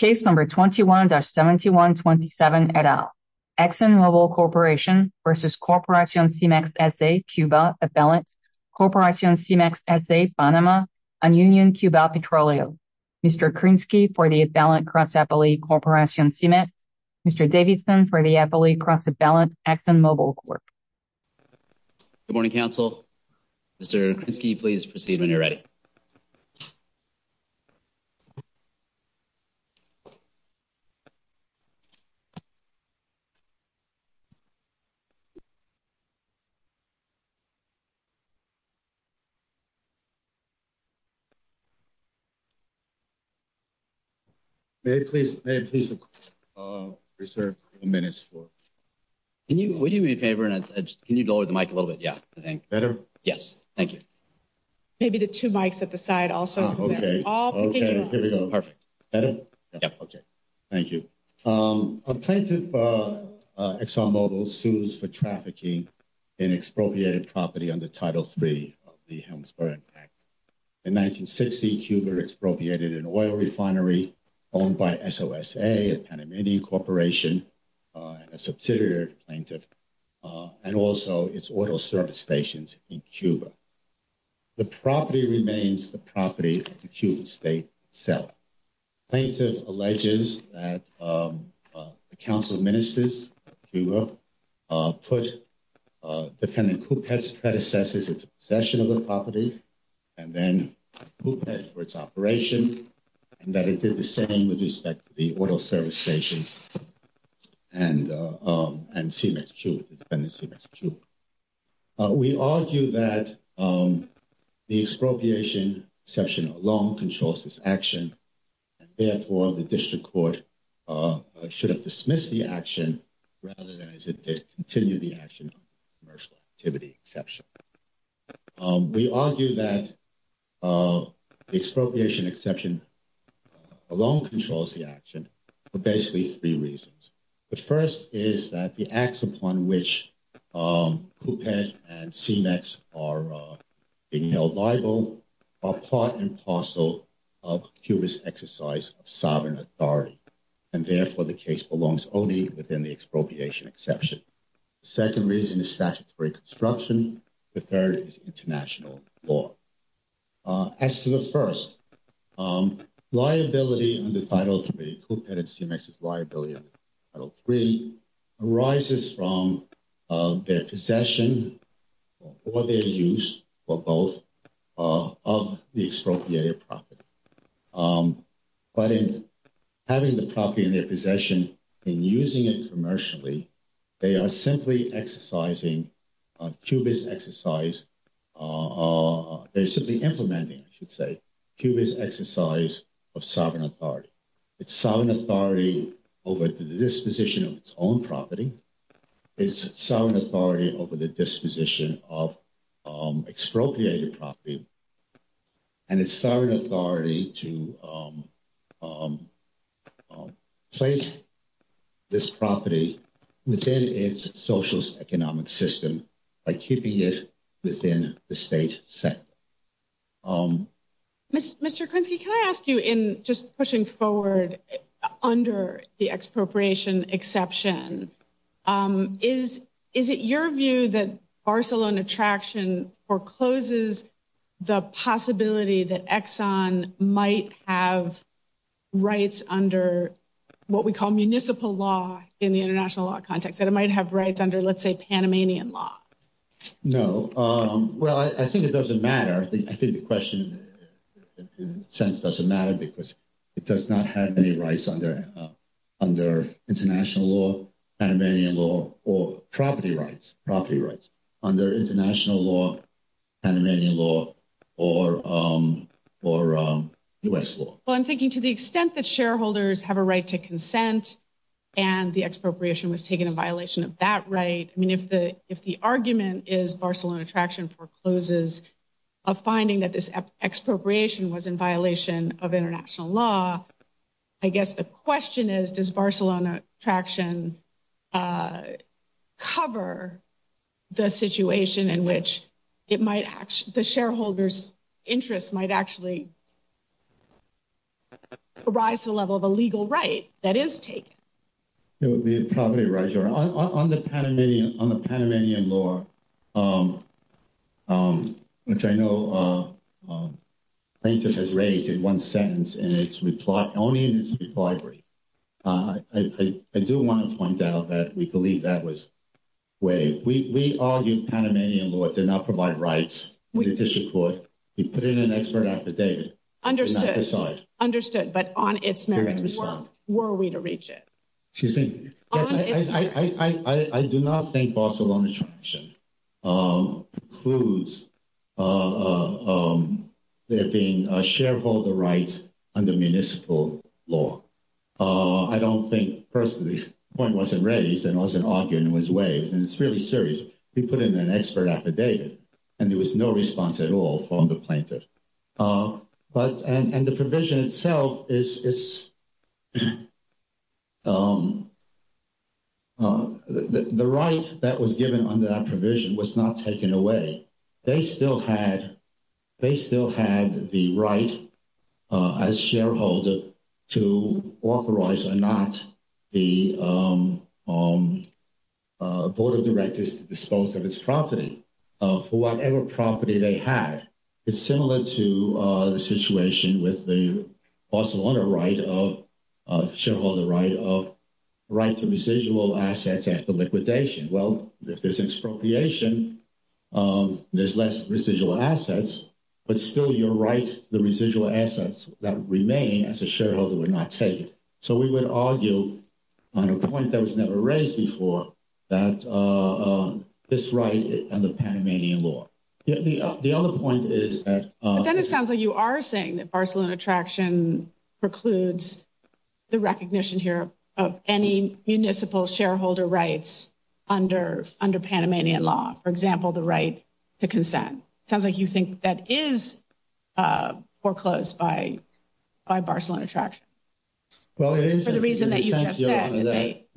Exxon Mobil Corporation v. Corporacion CIMEX, S.A. Cuba Exxon Mobil Corporation v. Corporacion CIMEX, S.A. Panama and Union Cuba Petroleum Mr. Krinsky for the Exxon Mobil Corporation Mr. Davidson for the Exxon Mobil Corporation Good morning, Council. Mr. Krinsky, please proceed when you're ready. May I please reserve a few minutes for... Would you do me a favor and can you lower the mic a little bit? Better? Yes. Thank you. Maybe the two mics at the side also. Okay. Perfect. Better? Yes. Okay. Thank you. Plaintiff Exxon Mobil sues for trafficking in expropriated property under Title III of the Helmsburg Act. In 1960, Cuba expropriated an oil refinery owned by SOSA, a Panamanian corporation, a subsidiary of Plaintiff, and also its oil service stations in Cuba. The property remains the property of the Cuban state itself. Plaintiff alleges that the Council of Ministers of Cuba put defendant Coupet's predecessors in possession of the property and then Coupet for its operation and that it did the same with respect to the oil service stations and Coupet, defendant Coupet. We argue that the expropriation exception alone controls this action and therefore the district court should have dismissed the action rather than continue the action of commercial activity exception. We argue that the expropriation exception alone controls the action for basically three reasons. The first is that the acts upon which Coupet and CEMEX are being held liable are part and parcel of Cuba's exercise of sovereign authority and therefore the case belongs only within the expropriation exception. The second reason is statutory construction. The third is international law. As to the first, liability under Title 3, Coupet and CEMEX's liability under Title 3, arises from their possession or their use for both of the expropriated property. But in having the property in their possession and using it commercially, they are simply exercising Coupet's exercise. They're simply implementing, I should say, Coupet's exercise of sovereign authority. It's sovereign authority over the disposition of its own property. It's sovereign authority over the disposition of expropriated property. And it's sovereign authority to place this property within its socialist economic system by keeping it within the state sector. Mr. Quincy, can I ask you in just pushing forward under the expropriation exception, is it your view that Barcelona Traction forecloses the possibility that Exxon might have rights under what we call municipal law in the international law context, that it might have rights under, let's say, Panamanian law? No. Well, I think it doesn't matter. I think the question in a sense doesn't matter because it does not have any rights under international law, Panamanian law, or property rights under international law, Panamanian law, or U.S. law. Well, I'm thinking to the extent that shareholders have a right to consent and the expropriation was taken in violation of that right, I mean, if the argument is Barcelona Traction forecloses a finding that this expropriation was in violation of international law, I guess the question is does Barcelona Traction cover the situation in which the shareholder's interest might actually rise to the level of a legal right that is taken? On the Panamanian law, which I know Frances has raised in one sentence, and it's only in its recovery, I do want to point out that we believe that was waived. We argued Panamanian law did not provide rights in judicial court. We put in an expert after David. Understood, but on its merits, were we to reach it? On its merits. I do not think Barcelona Traction precludes there being shareholder rights under municipal law. I don't think, personally, the point wasn't raised and wasn't argued and was waived, and it's really serious. We put in an expert after David and there was no response at all from the plaintiff. The provision itself, the right that was given under that provision was not taken away. They still had the right as shareholder to authorize or not the board of directors to dispose of its property for whatever property they had. It's similar to the situation with the Barcelona right of, shareholder right of, right to residual assets after liquidation. Well, if there's expropriation, there's less residual assets, but still you're right, the residual assets that remain as a shareholder were not taken. So we would argue on a point that was never raised before that this right and the Panamanian law. The other point is that- But then it sounds like you are saying that Barcelona Traction precludes the recognition here of any municipal shareholder rights under Panamanian law. For example, the right to consent. It sounds like you think that is foreclosed by Barcelona Traction. Well, it is- For the reason that you just said,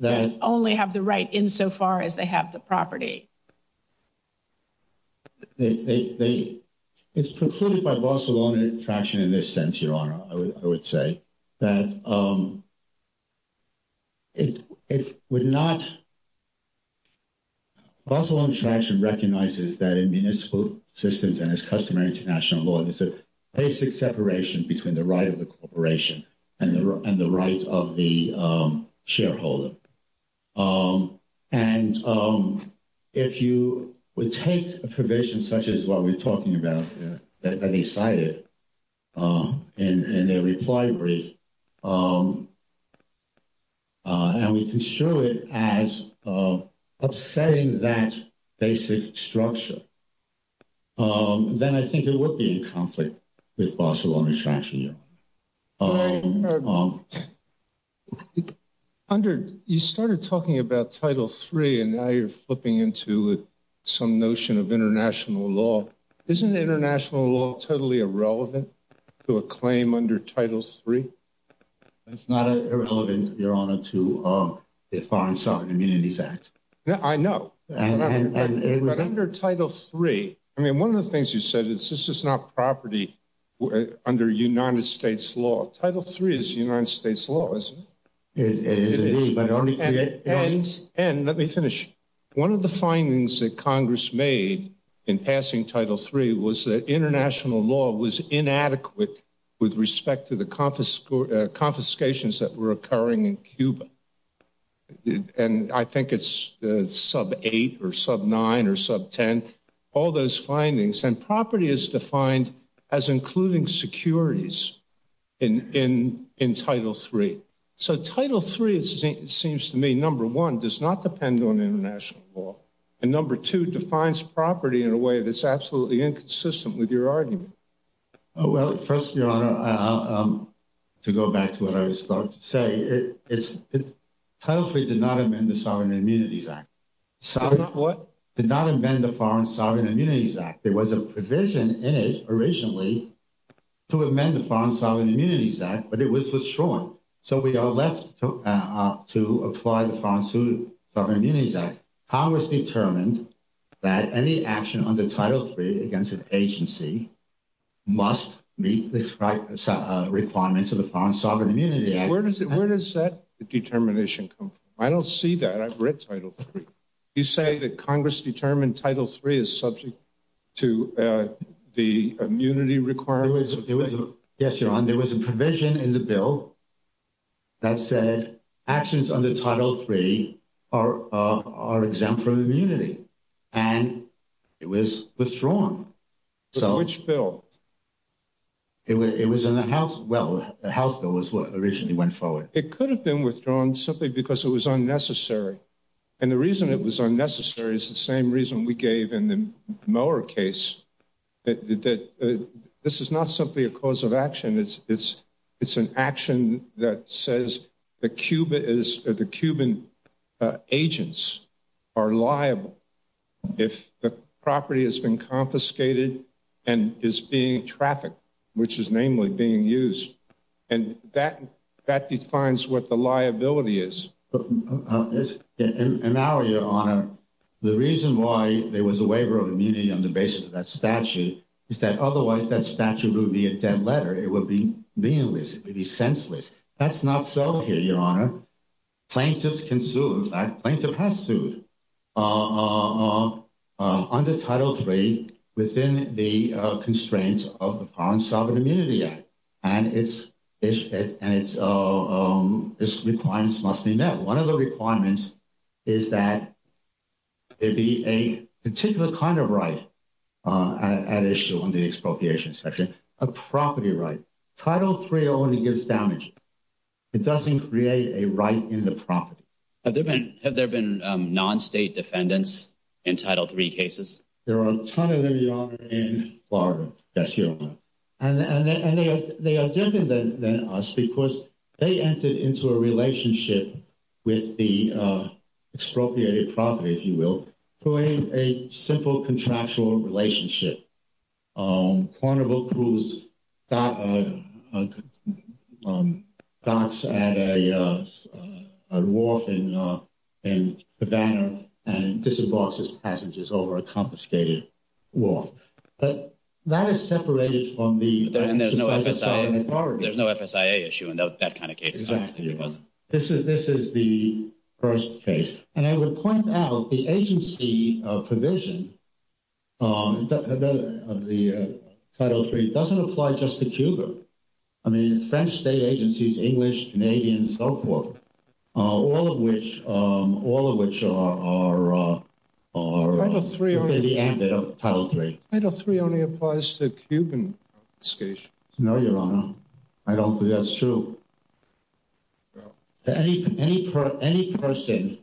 that they only have the right insofar as they have the property. It's precluded by Barcelona Traction in this sense, Your Honor, I would say. Barcelona Traction recognizes that in municipal systems and as customary international law, it's a basic separation between the right of the corporation and the right of the shareholder. And if you would take a provision such as what we're talking about here, that they cited in their reply brief, and we can show it as upsetting that basic structure, then I think it would be in conflict with Barcelona Traction. You started talking about Title III and now you're flipping into some notion of international law. Isn't international law totally irrelevant to a claim under Title III? It's not irrelevant, Your Honor, to the Foreign Sovereign Community Act. I know. But under Title III, I mean, one of the things you said is this is not property under United States law. Title III is United States law, isn't it? And let me finish. One of the findings that Congress made in passing Title III was that international law was inadequate with respect to the confiscations that were occurring in Cuba. And I think it's sub-8 or sub-9 or sub-10, all those findings. And property is defined as including securities in Title III. So Title III, it seems to me, number one, does not depend on international law. And number two, defines property in a way that's absolutely inconsistent with your argument. Well, first, Your Honor, to go back to what I was about to say, Title III did not amend the Sovereign Immunities Act. What? It did not amend the Foreign Sovereign Immunities Act. There was a provision in it originally to amend the Foreign Sovereign Immunities Act, but it was short. So we are left to apply the Foreign Sovereign Immunities Act. Congress determined that any action under Title III against an agency must meet the requirements of the Foreign Sovereign Immunities Act. Where does that determination come from? I don't see that. I've read Title III. You say that Congress determined Title III is subject to the immunity requirements? Yes, Your Honor. There was a provision in the bill that said actions under Title III are exempt from immunity. And it was withdrawn. So which bill? It was in the House. Well, the House bill was what originally went forward. It could have been withdrawn simply because it was unnecessary. And the reason it was unnecessary is the same reason we gave in the Miller case, that this is not simply a cause of action. It's an action that says the Cuban agents are liable if the property has been confiscated and is being trafficked, which is namely being used. And that defines what the liability is. And now, Your Honor, the reason why there was a waiver of immunity on the basis of that statute is that otherwise that statute would be a dead letter. It would be meaningless. It would be senseless. That's not so here, Your Honor. Plaintiffs can sue. In fact, plaintiffs have sued under Title III within the constraints of the Foreign Sovereign Immunities Act. And its requirements must be met. One of the requirements is that there be a particular kind of right at issue in the expropriation section, a property right. Title III only gives damages. It doesn't create a right in the property. Have there been non-state defendants in Title III cases? There are a ton of them, Your Honor, in Florida, yes, Your Honor. And they are different than us because they entered into a relationship with the expropriated property, if you will, through a simple contractual relationship. A carnival cruise docks at a wharf in Havana and disembarks its passengers over a confiscated wharf. But that is separated from the expropriated property. There's no FSIA issue in that kind of case. Exactly. This is the first case. And I would point out the agency provision of the Title III doesn't apply just to Cuba. I mean, French state agencies, English, Canadian, and so forth. All of which are part of the ambit of Title III. Title III only applies to Cuban states. No, Your Honor. I don't believe that's true. Any person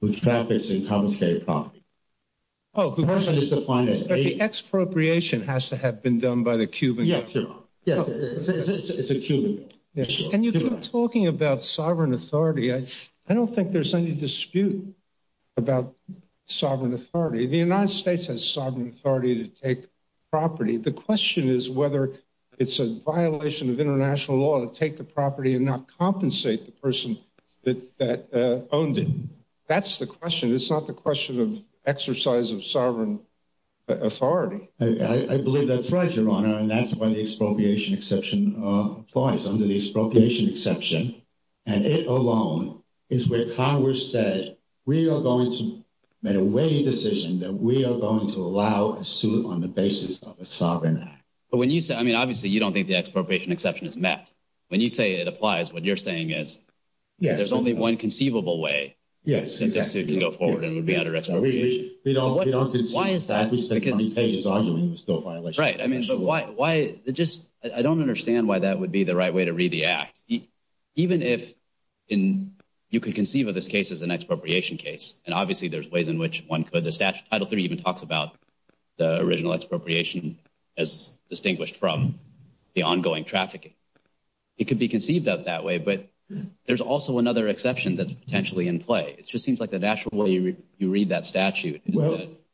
who traffics in confiscated property. The expropriation has to have been done by the Cuban. Yes, Your Honor. It's a Cuban issue. And you keep talking about sovereign authority. I don't think there's any dispute about sovereign authority. The United States has sovereign authority to take property. The question is whether it's a violation of international law to take the property and not compensate the person that owned it. That's the question. It's not the question of exercise of sovereign authority. I believe that's right, Your Honor. And that's why the expropriation exception applies under the expropriation exception. And it alone is where Congress said we are going to make a weighing decision that we are going to allow a suit on the basis of a sovereign act. But when you say, I mean, obviously you don't think the expropriation exception is met. When you say it applies, what you're saying is there's only one conceivable way. Yes, exactly. If you go forward, it would be under expropriation. Why is that? Right. I mean, but why? I don't understand why that would be the right way to read the act. Even if you could conceive of this case as an expropriation case, and obviously there's ways in which one could. Title III even talks about the original expropriation as distinguished from the ongoing trafficking. It could be conceived of that way, but there's also another exception that's potentially in play. It just seems like the natural way you read that statute.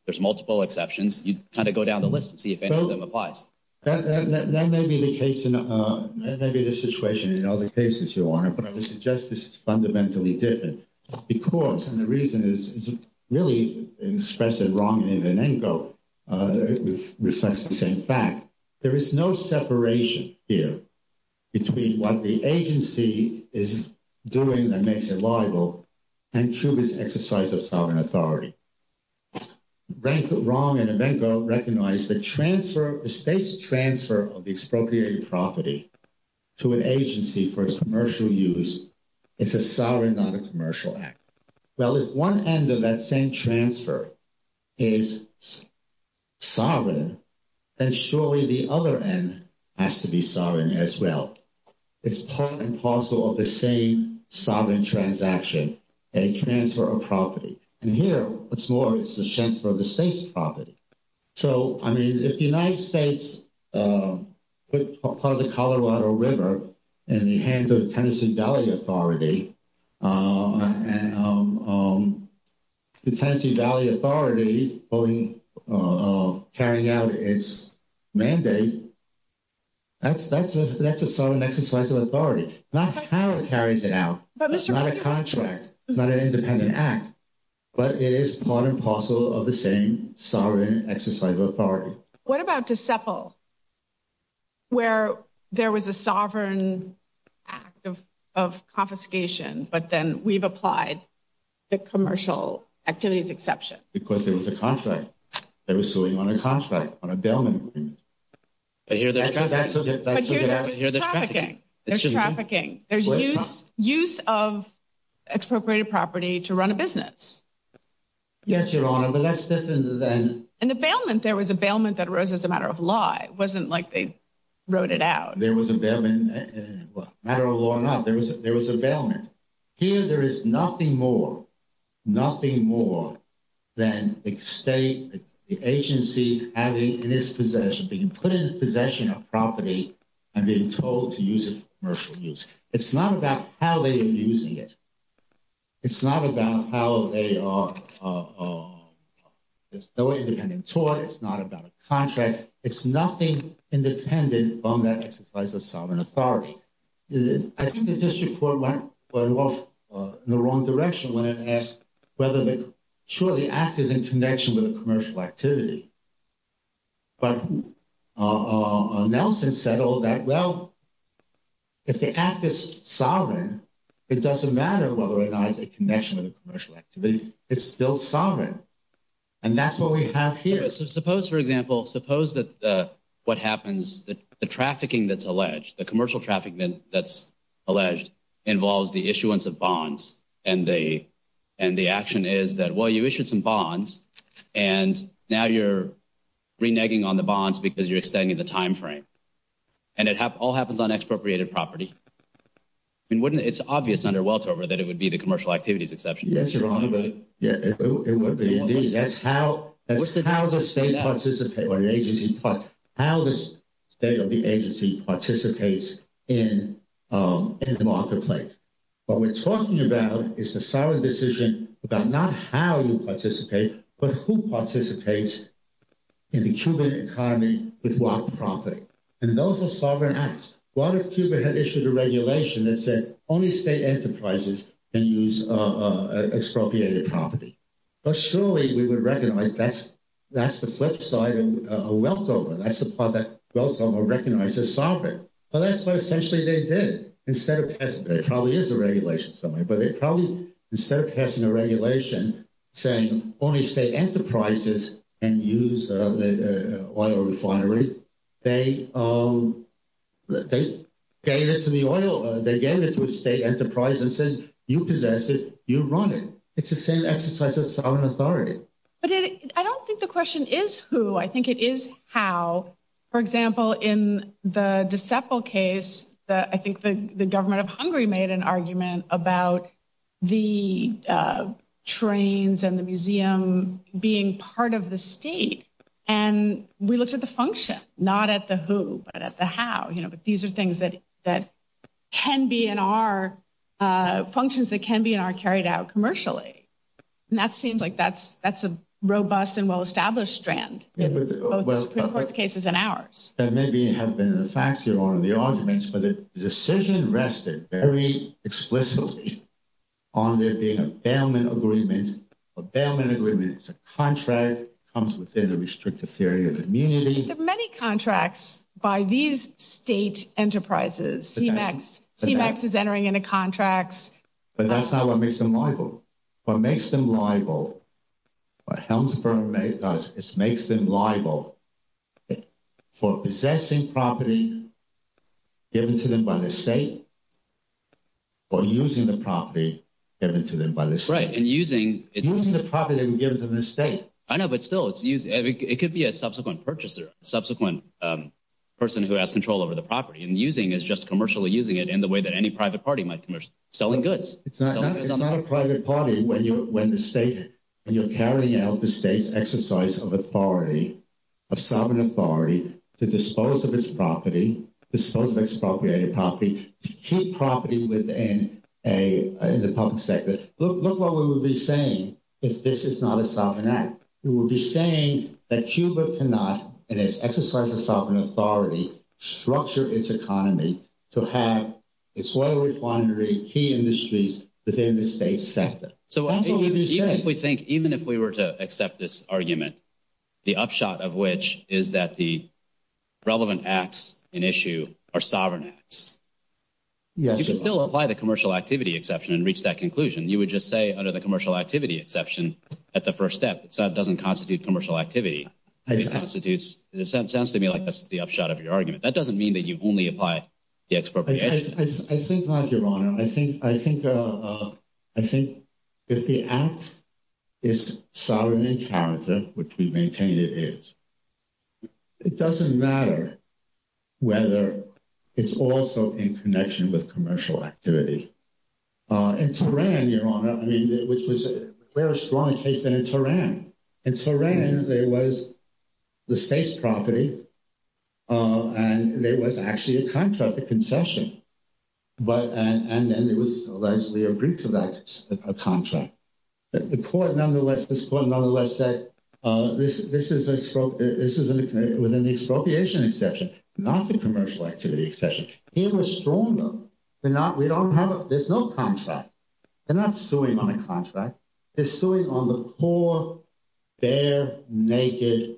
There's multiple exceptions. You kind of go down the list and see if any of them applies. That may be the case in a situation in other cases, Your Honor, but I would suggest this is fundamentally different. Because, and the reason is, it's really expressed in a wrong way than any vote. It's the same fact. There is no separation here between what the agency is doing that makes it liable and through this exercise of sovereign authority. Rankin, Wrong, and Avengo recognize the transfer, the state's transfer of expropriated property to an agency for its commercial use is a sovereign, not a commercial act. Well, if one end of that same transfer is sovereign, then surely the other end has to be sovereign as well. It's part and parcel of the same sovereign transaction, a transfer of property. And here, what's more, it's a transfer of the state's property. So, I mean, if the United States puts part of the Colorado River in the hands of the Tennessee Valley Authority, the Tennessee Valley Authority carrying out its mandate, that's a sovereign exercise of authority. Not Colorado carries it out. It's not a contract. It's not an independent act. But it is part and parcel of the same sovereign exercise of authority. What about Dissepol, where there was a sovereign act of confiscation, but then we've applied the commercial activities exception? Because there was a contract. They were suing on a contract, on a bailment agreement. I hear that. There's trafficking. There's trafficking. There's use of expropriated property to run a business. Yes, Your Honor, but that's different than… In the bailment, there was a bailment that arose as a matter of law. It wasn't like they wrote it out. There was a bailment. Well, matter of law or not, there was a bailment. Here, there is nothing more, nothing more than the state, the agency having in its possession, being put in possession of property and being told to use it for commercial use. It's not about how they are using it. It's not about how they are… It's no independent tort. It's not about a contract. It's nothing independent on that exercise of sovereign authority. I think the district court went off in the wrong direction when it asked whether the act is in connection with a commercial activity. But Nelson said all that, well, if the act is sovereign, it doesn't matter whether or not it's in connection with a commercial activity. It's still sovereign, and that's what we have here. Suppose, for example, suppose that what happens, the trafficking that's alleged, the commercial trafficking that's alleged involves the issuance of bonds. And the action is that, well, you issued some bonds, and now you're reneging on the bonds because you're extending the time frame. And it all happens on expropriated property. It's obvious under Weltover that it would be the commercial activities exception. Yes, you're wrong, but it would be. That's how the state participates or the agency participates in the marketplace. What we're talking about is a solid decision about not how you participate, but who participates in the Cuban economy with what property. And those are sovereign acts. What if Cuba had issued a regulation that said only state enterprises can use expropriated property? Well, surely we would recognize that's the flip side of Weltover. That's the part that Weltover recognized as sovereign. So that's what essentially they did. It probably is a regulation somewhere, but it probably, instead of passing a regulation saying only state enterprises can use oil refineries, they gave it to a state enterprise and said, you possess it. You run it. It's the same exercise of sovereign authority. But I don't think the question is who. I think it is how. For example, in the Decepol case, I think the government of Hungary made an argument about the trains and the museum being part of the state. And we looked at the function, not at the who, but at the how. You know, these are things that can be in our functions that can be in our carried out commercially. And that seems like that's a robust and well-established strand in both cases and ours. There may have been a factor on the arguments, but the decision rested very explicitly on there being a bailment agreement. A bailment agreement is a contract. It comes within the restrictive theory of immunity. There are many contracts by these state enterprises. CMAX is entering into contracts. But that's not what makes them liable. What makes them liable, what Helmsberg does is makes them liable for possessing property given to them by the state or using the property given to them by the state. Right, and using – Using the property that you give them to the state. I know, but still, it could be a subsequent purchaser, a subsequent person who has control over the property. And using is just commercially using it in the way that any private party might commercially – selling goods. It's not a private party when you're carrying out the state's exercise of authority, of sovereign authority, to dispose of its property, dispose of expropriated property, to keep property within the public sector. Look what we would be saying if this is not a sovereign act. We would be saying that Cuba cannot, in its exercise of sovereign authority, structure its economy to have its oil refineries, key industries within the state sector. So even if we think – even if we were to accept this argument, the upshot of which is that the relevant acts in issue are sovereign acts. Yes. If you still apply the commercial activity exception and reach that conclusion, you would just say under the commercial activity exception at the first step. It doesn't constitute commercial activity. It constitutes – it sounds to me like that's the upshot of your argument. That doesn't mean that you only apply the expropriation. I think not, Your Honor. I think if the act is sovereign in character, which we maintain it is, it doesn't matter whether it's also in connection with commercial activity. In Tehran, Your Honor, I mean, which was a very strong case in Tehran, in Tehran there was the state's property and there was actually a contract, a concession. But – and then it was – we agreed to that contract. The court nonetheless – this court nonetheless said this is a – this is within the expropriation exception, not the commercial activity exception. Here we're stronger. We're not – we don't have – there's no contract. They're not suing on a contract. They're suing on the poor, bare, naked,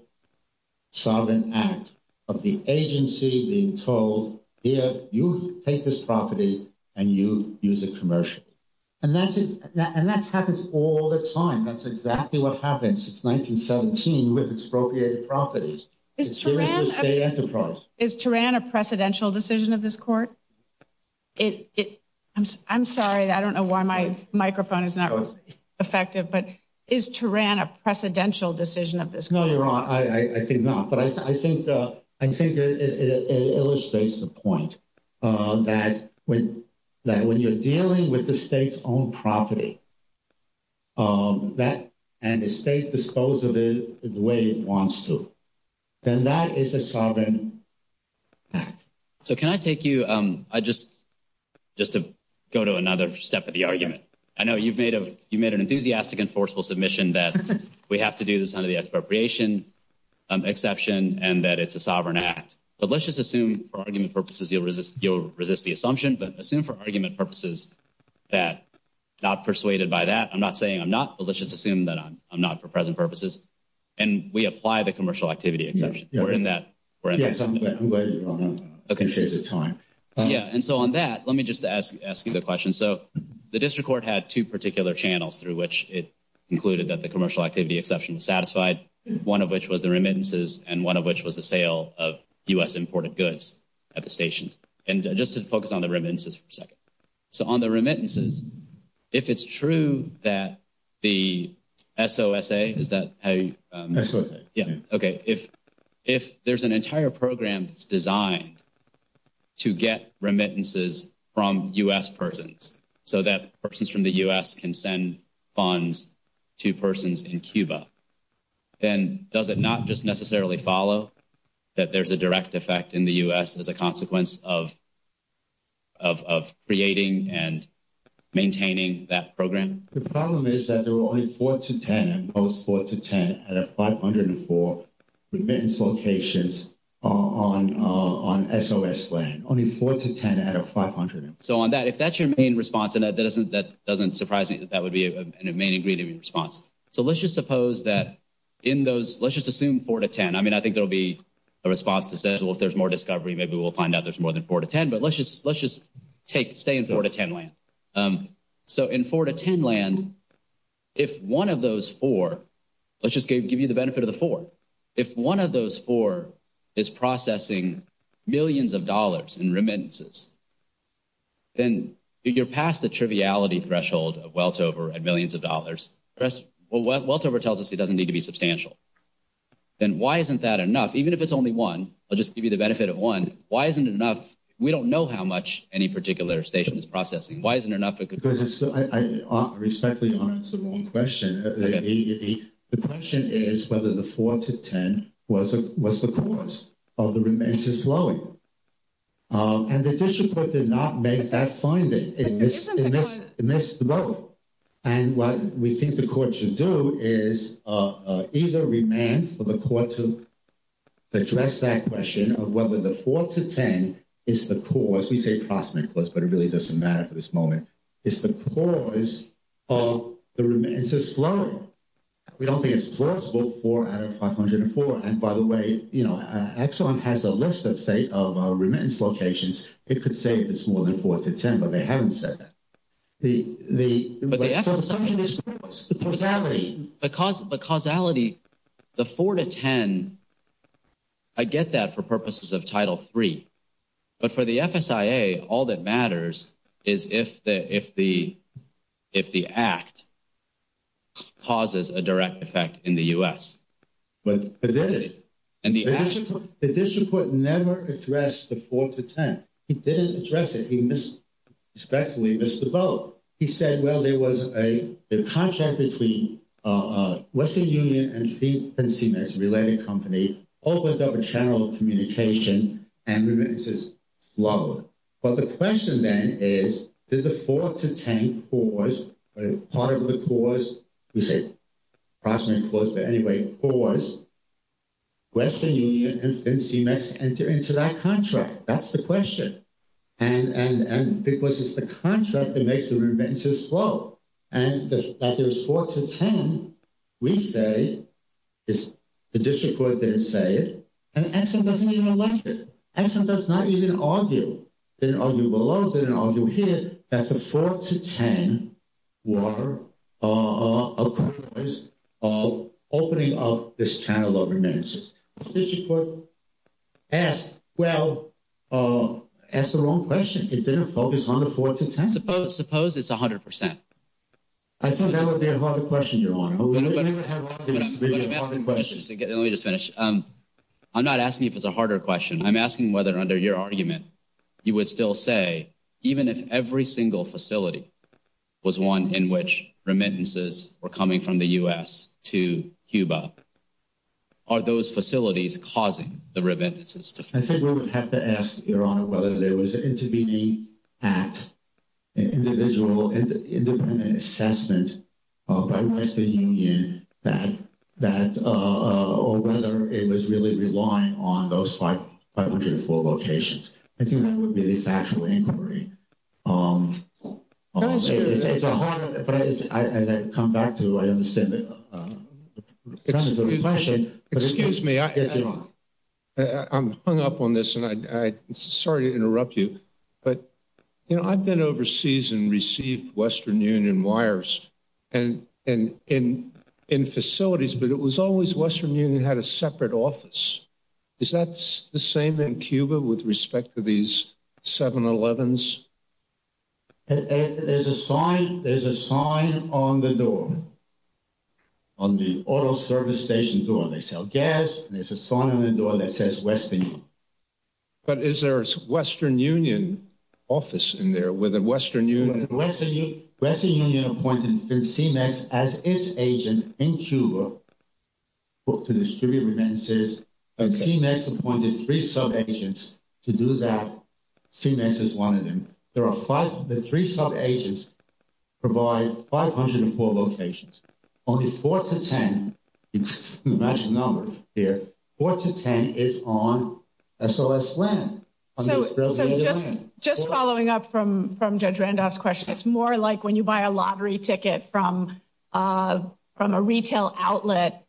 sovereign act of the agency being told, here, you take this property and you use it commercially. And that happens all the time. That's exactly what happened since 1917 with expropriated properties. Is Tehran a precedential decision of this court? I'm sorry. I don't know why my microphone is not effective. But is Tehran a precedential decision of this court? No, Your Honor. I think not. And that is a sovereign act. So can I take you – just to go to another step of the argument. I know you've made an enthusiastic and forceful submission that we have to do this under the expropriation exception and that it's a sovereign act. But let's just assume for argument purposes you'll resist the assumption. But assume for argument purposes that – not persuaded by that. I'm not saying I'm not. But let's just assume that I'm not for present purposes. And we apply the commercial activity exception. We're in that agreement. Yes, I'm going to go ahead. I don't want to confuse the time. Yeah. And so on that, let me just ask you the question. So the district court had two particular channels through which it concluded that the commercial activity exception satisfied, one of which was the remittances and one of which was the sale of U.S. imported goods at the station. And just to focus on the remittances for a second. So on the remittances, if it's true that the SOSA – is that how you – SOSA. Yeah. Okay. If there's an entire program designed to get remittances from U.S. persons so that persons from the U.S. can send funds to persons in Cuba, then does it not just necessarily follow that there's a direct effect in the U.S. as a consequence of creating and maintaining that program? The problem is that there were only 4 to 10, and post 4 to 10, out of 504 remittance locations on SOS land. Only 4 to 10 out of 500. So on that, if that's your main response, then that doesn't surprise me that that would be a main ingredient in your response. So let's just suppose that in those – let's just assume 4 to 10. I mean, I think there will be a response that says, well, if there's more discovery, maybe we'll find out there's more than 4 to 10. But let's just stay in 4 to 10 land. So in 4 to 10 land, if one of those four – let's just give you the benefit of the four. If one of those four is processing millions of dollars in remittances, then if you're past the triviality threshold of weltover and millions of dollars, well, weltover tells us it doesn't need to be substantial. Then why isn't that enough? Even if it's only one, I'll just give you the benefit of one. Why isn't it enough? We don't know how much any particular station is processing. Why isn't it enough? I respectfully want to answer the wrong question. The question is whether the 4 to 10 was the cause of the remittances flowing. And the district court did not make that finding in this role. And what we think the court should do is either demand for the court to address that question of whether the 4 to 10 is the cause. Of course, we say possibly close, but it really doesn't matter at this moment. It's the cause of the remittances flowing. We don't think it's plausible 4 out of 504. And by the way, Exxon has a list, let's say, of remittance locations. It could say it's more than 4 to 10, but they haven't said that. The assumption is false. The causality. The causality, the 4 to 10, I get that for purposes of Title III. But for the FSIA, all that matters is if the act causes a direct effect in the U.S. But it didn't. The district court never addressed the 4 to 10. He didn't address it. He respectfully missed the boat. He said, well, there was a contract between Western Union and Finsey Mess, a related company. All those have a channel of communication and remittances flow. But the question then is, does the 4 to 10 cause, part of the cause, we say possibly close, but anyway, cause Western Union and Finsey Mess to enter into that contract? That's the question. Because it's the contract that makes the remittances flow. And that there's 4 to 10, we say, the district court didn't say it, and Exxon doesn't even address it. Exxon does not even argue, didn't argue below, didn't argue here, that the 4 to 10 were a cause of opening up this channel of remittances. The district court asked, well, asked the wrong question. It didn't focus on the 4 to 10. Suppose it's 100%. I think that would be a harder question to answer. Let me just finish. I'm not asking if it's a harder question. I'm asking whether, under your argument, you would still say, even if every single facility was one in which remittances were coming from the U.S. to Cuba, are those facilities causing the remittances to flow? I think we would have to ask, Your Honor, whether there was an intermediate act, an individual assessment by Western Union that, or whether it was really relying on those 504 locations. I think that would be the factual inquiry. It's a hard, but I'd come back to it. Excuse me. I'm hung up on this, and I'm sorry to interrupt you. But, you know, I've been overseas and received Western Union wires and facilities, but it was always Western Union had a separate office. Is that the same in Cuba with respect to these 711s? There's a sign on the door. On the auto service station door, they sell gas, and there's a sign on the door that says Western Union. But is there a Western Union office in there with a Western Union? Western Union appointed CEMEX as its agent in Cuba to distribute remittances, and CEMEX appointed three sub-agents to do that. CEMEX is one of them. The three sub-agents provide 504 locations. Only 4 to 10, the actual number is 4 to 10 is on SOS land. So just following up from Judge Randolph's question, it's more like when you buy a lottery ticket from a retail outlet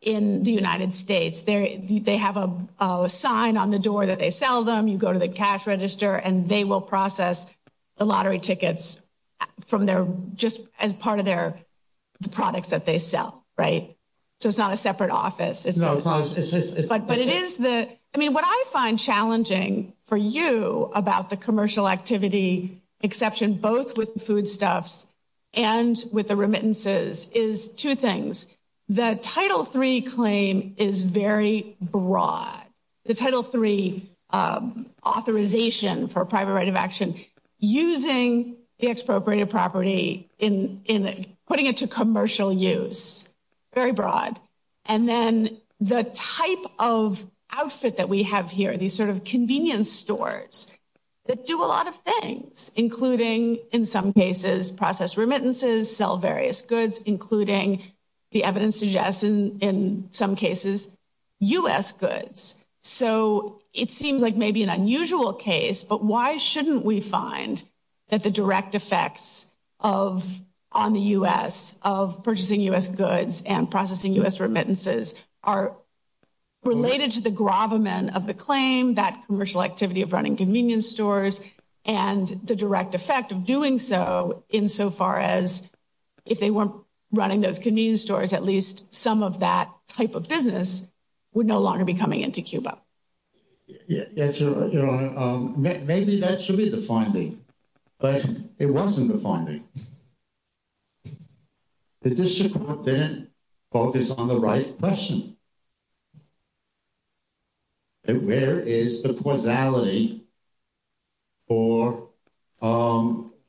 in the United States. They have a sign on the door that they sell them. You go to the cash register, and they will process the lottery tickets from their – just as part of their products that they sell, right? So it's not a separate office. But it is the – I mean, what I find challenging for you about the commercial activity exception, both with foodstuffs and with the remittances, is two things. The Title III claim is very broad. The Title III authorization for private right of action, using the expropriated property in – putting it to commercial use, very broad. And then the type of outfit that we have here, these sort of convenience stores that do a lot of things, including, in some cases, process remittances, sell various goods, including, the evidence suggests, in some cases, U.S. goods. So it seems like maybe an unusual case, but why shouldn't we find that the direct effects on the U.S., of purchasing U.S. goods and processing U.S. remittances, are related to the gravamen of the claim, that commercial activity of running convenience stores, and the direct effect of doing so, insofar as, if they weren't running those convenience stores, at least some of that type of business would no longer be coming into Cuba? Yes, Your Honor. Maybe that should be the finding, but it wasn't the finding. The district court didn't focus on the right question. Where is the causality for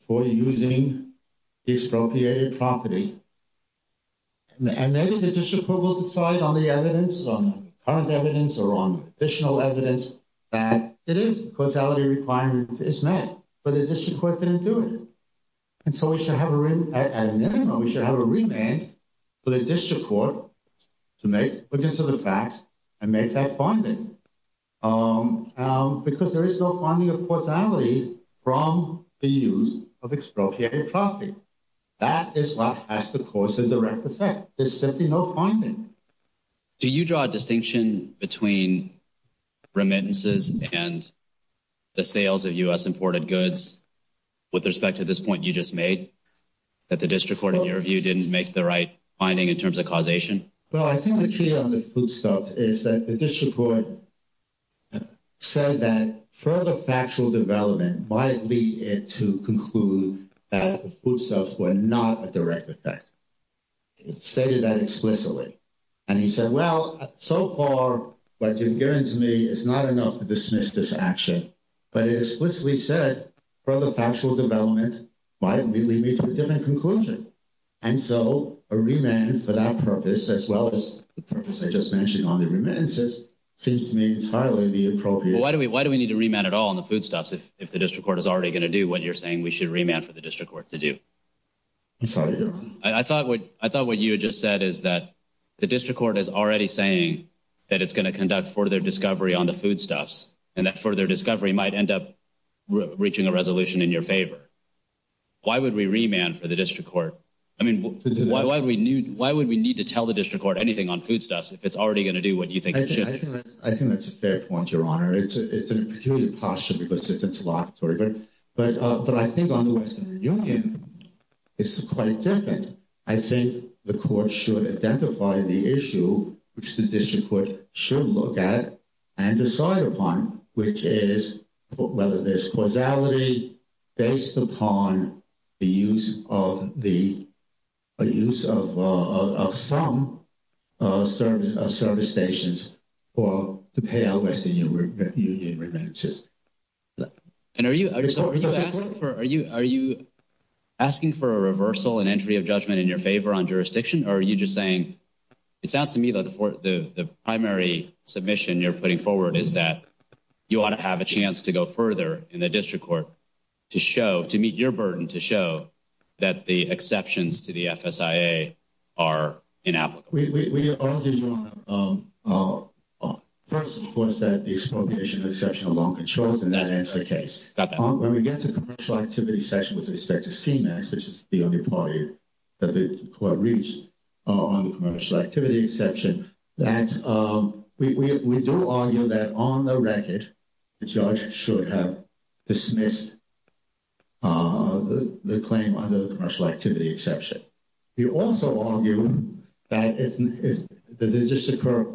using expropriated property? And maybe the district court will decide on the evidence, on current evidence, or on additional evidence, that it is causality requirement is met, but the district court didn't do it. And so we should have a remand for the district court to make, put this in the facts, and make that finding. Because there is no finding of causality from the use of expropriated property. That is what has the cause of direct effect. There's simply no finding. Do you draw a distinction between remittances and the sales of U.S. imported goods, with respect to this point you just made? That the district court, in your view, didn't make the right finding in terms of causation? Well, I think the key on the food stuff is that the district court said that further factual development might lead it to conclude that the food stuffs were not a direct effect. It stated that explicitly. And he said, well, so far, what you're hearing from me is not enough to dismiss this action. But it explicitly said further factual development might lead me to a different conclusion. And so a remand for that purpose, as well as the purpose I just mentioned on the remittances, seems to me entirely inappropriate. Why do we need to remand at all on the food stuffs if the district court is already going to do what you're saying we should remand for the district court to do? I thought what you just said is that the district court is already saying that it's going to conduct further discovery on the food stuffs. And that further discovery might end up reaching a resolution in your favor. Why would we remand for the district court? I mean, why would we need to tell the district court anything on food stuffs if it's already going to do what you think it should? I think that's a fair point, Your Honor. It's a peculiar posture because it's a lot further. But I think on the Western Union, it's quite different. I think the court should identify the issue which the district court should look at and decide upon, which is whether there's causality based upon the use of some service stations to pay out Western Union remittances. And are you asking for a reversal and entry of judgment in your favor on jurisdiction? Or are you just saying, it sounds to me that the primary submission you're putting forward is that you ought to have a chance to go further in the district court to meet your burden to show that the exceptions to the FSIA are inapplicable. We argue, Your Honor, first of course, that the expropriation of exceptional loan controls, and that ends the case. When we get to commercial activity section with respect to scheme acts, which is the only party that the court reached on the commercial activity exception, that we do argue that on the record, the judge should have dismissed the claim under the commercial activity exception. We also argue that the district court,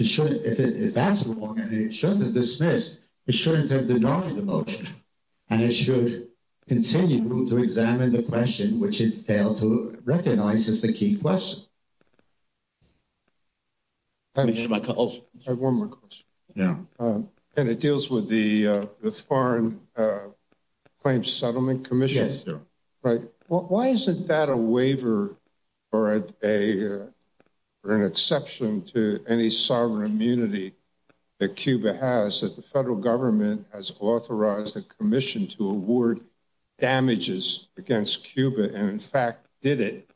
if that's the one, it shouldn't have dismissed, it shouldn't have denied the motion. And it should continue to examine the question, which it failed to recognize as the key question. I have one more question. Yeah. And it deals with the Foreign Claims Settlement Commission. Yes. Why is it that a waiver or an exception to any sovereign immunity that Cuba has, that the federal government has authorized the commission to award damages against Cuba and in fact did it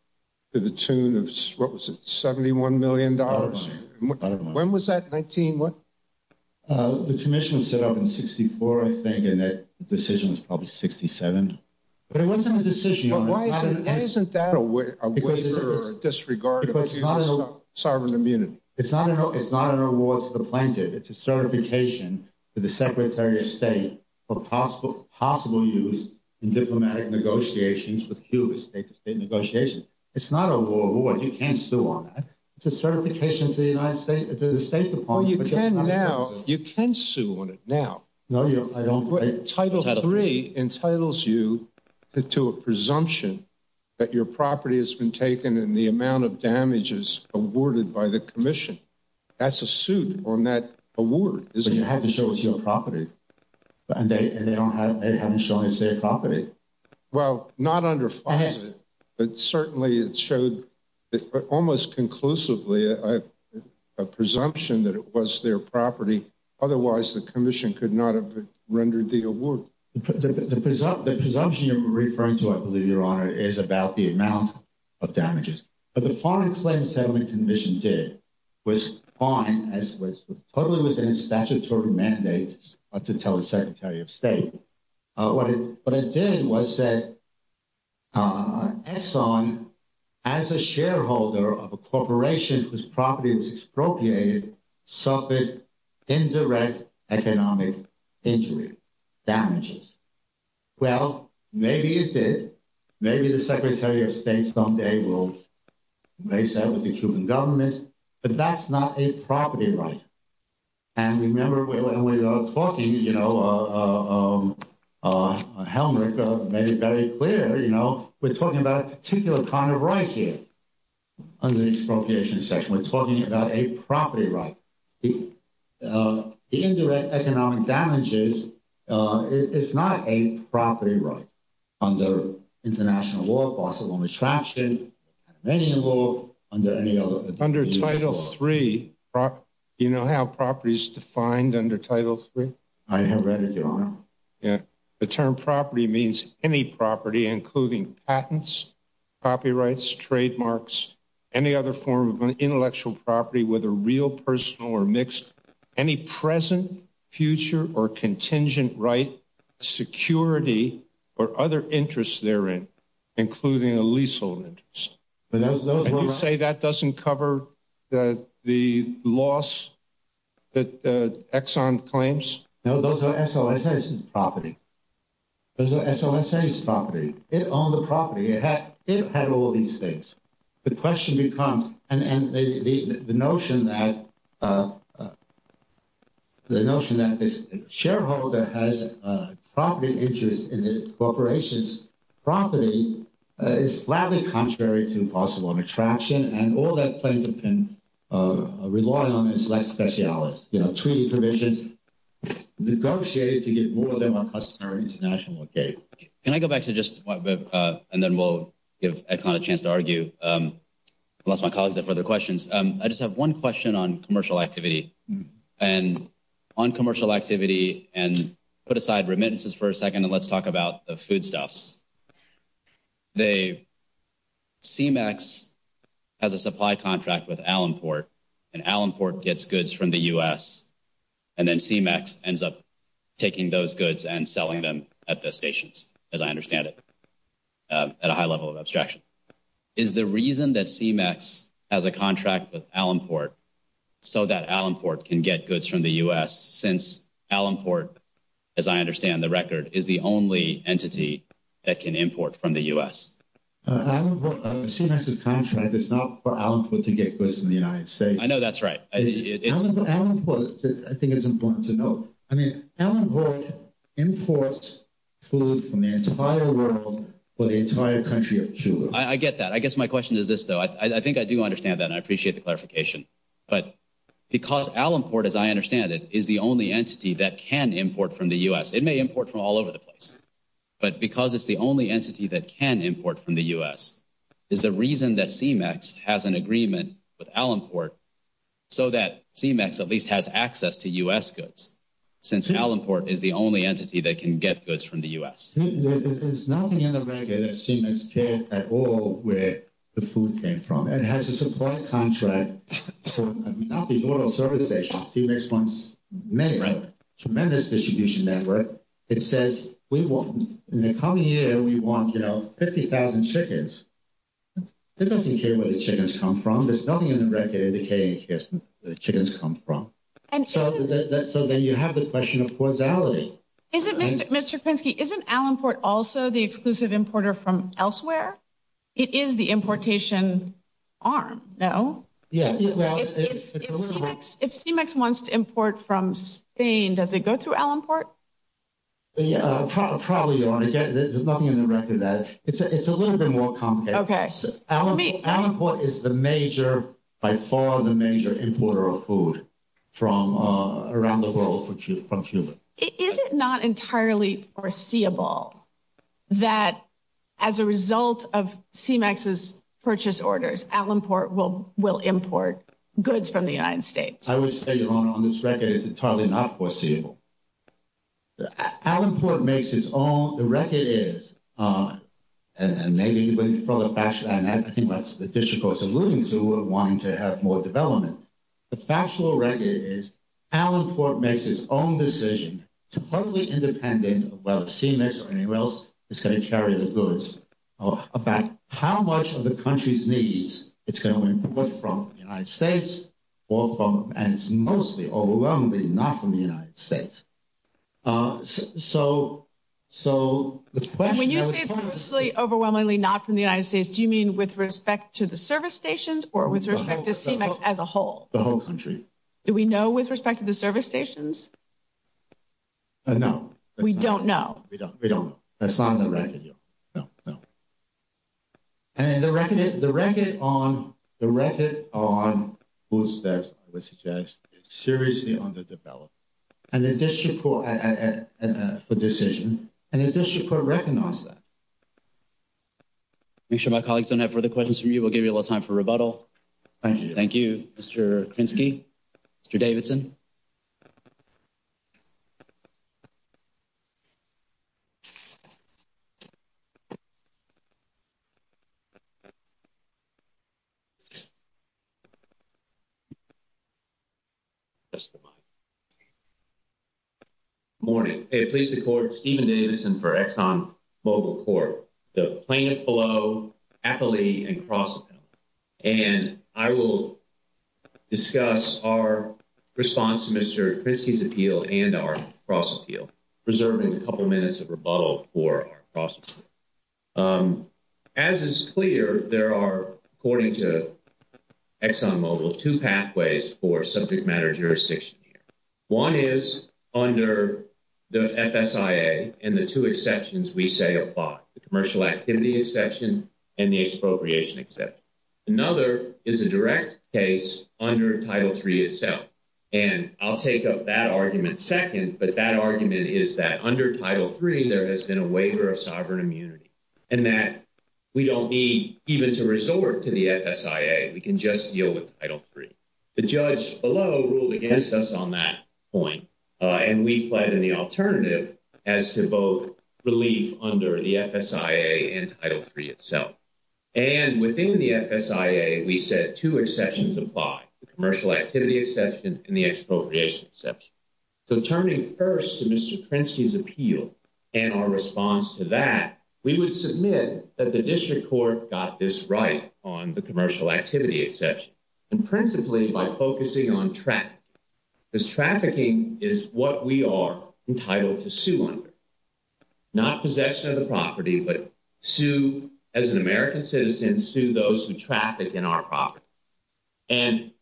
to the tune of, what was it, $71 million? When was that? The commission was set up in 64, I think, and the decision was published in 67. It wasn't a decision. But why isn't that a waiver or a disregard of sovereign immunity? It's not an award to the plaintiff. It's a certification to the Secretary of State of possible use in diplomatic negotiations with Cuba, state-to-state negotiations. It's not an award. You can't sue on that. It's a certification to the United States, to the State Department. Well, you can now. You can sue on it now. No, I don't. Title III entitles you to a presumption that your property has been taken and the amount of damages awarded by the commission. That's a suit on that award. But you have to show it's your property. And they haven't shown it's their property. Well, not under FISA, but certainly it showed almost conclusively a presumption that it was their property. Otherwise, the commission could not have rendered the award. The presumption you're referring to, I believe, Your Honor, is about the amount of damages. But the foreign claim settlement the commission did was fine. It was totally within the statutory mandate to tell the Secretary of State. What it did was that Exxon, as a shareholder of a corporation whose property was expropriated, suffered indirect economic injury, damages. Well, maybe it did. Maybe the Secretary of State someday will race that with the Cuban government. But that's not his property right. And remember when we were talking, you know, on Helmuth, I made it very clear, you know, we're talking about a particular kind of right here under the expropriation section. We're talking about a property right. The indirect economic damages, it's not a property right under international law, possible mistraption. Under Title III, do you know how property is defined under Title III? I have read it, Your Honor. The term property means any property, including patents, copyrights, trademarks, any other form of intellectual property, whether real, personal, or mixed. Any present, future, or contingent right, security, or other interests therein, including a leasehold interest. And you say that doesn't cover the loss that Exxon claims? No, those are SOSA's property. Those are SOSA's property. It owned the property. It had all these things. The question becomes, and the notion that the shareholder has property interest in the corporation's property is flatly contrary to possible mistraption. And all that claimant can rely on is less speciality, you know, treaty provisions negotiated to get more of them on customary international law. Okay. Can I go back to just my book, and then we'll give Exxon a chance to argue? Unless my colleagues have further questions. I just have one question on commercial activity. And on commercial activity, and put aside remittances for a second, and let's talk about the food stuffs. They, CMEX has a supply contract with Alamport, and Alamport gets goods from the U.S., and then CMEX ends up taking those goods and selling them at best stations, as I understand it, at a high level of abstraction. Is the reason that CMEX has a contract with Alamport so that Alamport can get goods from the U.S., since Alamport, as I understand the record, is the only entity that can import from the U.S.? CMEX's contract is not for Alamport to get goods from the United States. I know that's right. Alamport, I think, is important to note. I mean, Alamport imports food from the entire world for the entire country of Cuba. I get that. I guess my question is this, though. I think I do understand that, and I appreciate the clarification. But because Alamport, as I understand it, is the only entity that can import from the U.S. It may import from all over the place. But because it's the only entity that can import from the U.S., is the reason that CMEX has an agreement with Alamport so that CMEX at least has access to U.S. goods, since Alamport is the only entity that can get goods from the U.S.? There's nothing in the record that CMEX cares at all where the food came from. It has a supply contract for not the oil service station. CMEX wants to make a tremendous distribution network. It says, in the coming year, we want 50,000 chickens. It doesn't care where the chickens come from. There's nothing in the record indicating where the chickens come from. So then you have the question of causality. Mr. Krinsky, isn't Alamport also the exclusive importer from elsewhere? It is the importation arm, no? Yeah. If CMEX wants to import from Spain, does it go to Alamport? Probably, Your Honor. There's nothing in the record that. It's a little bit more complex. Okay. Alamport is the major, by far the major, importer of food from around the world from Cuba. Is it not entirely foreseeable that as a result of CMEX's purchase orders, Alamport will import goods from the United States? I would say, Your Honor, on this record, it's entirely not foreseeable. Alamport makes its own. The record is, and maybe when you follow up after that, and I think that's the District Court's alluding to, we're wanting to have more development. The factual record is Alamport makes its own decision. It's totally independent of whether CMEX or anyone else is going to carry the goods. About how much of the country's needs is going to be put from the United States and it's mostly overwhelmingly not from the United States. So the question. When you say mostly overwhelmingly not from the United States, do you mean with respect to the service stations or with respect to CMEX as a whole? The whole country. Do we know with respect to the service stations? No. We don't know. We don't know. That's not on the record yet. No, no. And the record on food stamps, I would suggest, is seriously underdeveloped. And the District Court, the decision, and the District Court recognized that. Make sure my colleagues don't have further questions from you. We'll give you a little time for rebuttal. Thank you. Thank you, Mr. Kinski, Mr. Davidson. Good morning. I'm pleased to report Stephen Davidson for Exxon Mobil Corp. The plaintiff below, Appley, and Crossman. And I will discuss our response to Mr. Kinski's appeal and our cross-appeal, preserving a couple minutes of rebuttal for our cross-appeal. As is clear, there are, according to Exxon Mobil, two pathways for subject matter jurisdiction. One is under the FSIA and the two exceptions we say apply, the commercial activity exception and the expropriation exception. Another is a direct case under Title III itself. And I'll take up that argument second, but that argument is that under Title III, there has been a waiver of sovereign immunity. And that we don't need even to resort to the FSIA. We can just deal with Title III. The judge below ruled against us on that point. And we find the alternative as to both relief under the FSIA and Title III itself. And within the FSIA, we said two exceptions apply, the commercial activity exception and the expropriation exception. So turning first to Mr. Kinski's appeal and our response to that, we would submit that the district court got this right on the commercial activity exception, and principally by focusing on trafficking. Because trafficking is what we are entitled to sue under. Not possession of the property, but sue as an American citizen, sue those who traffic in our property. And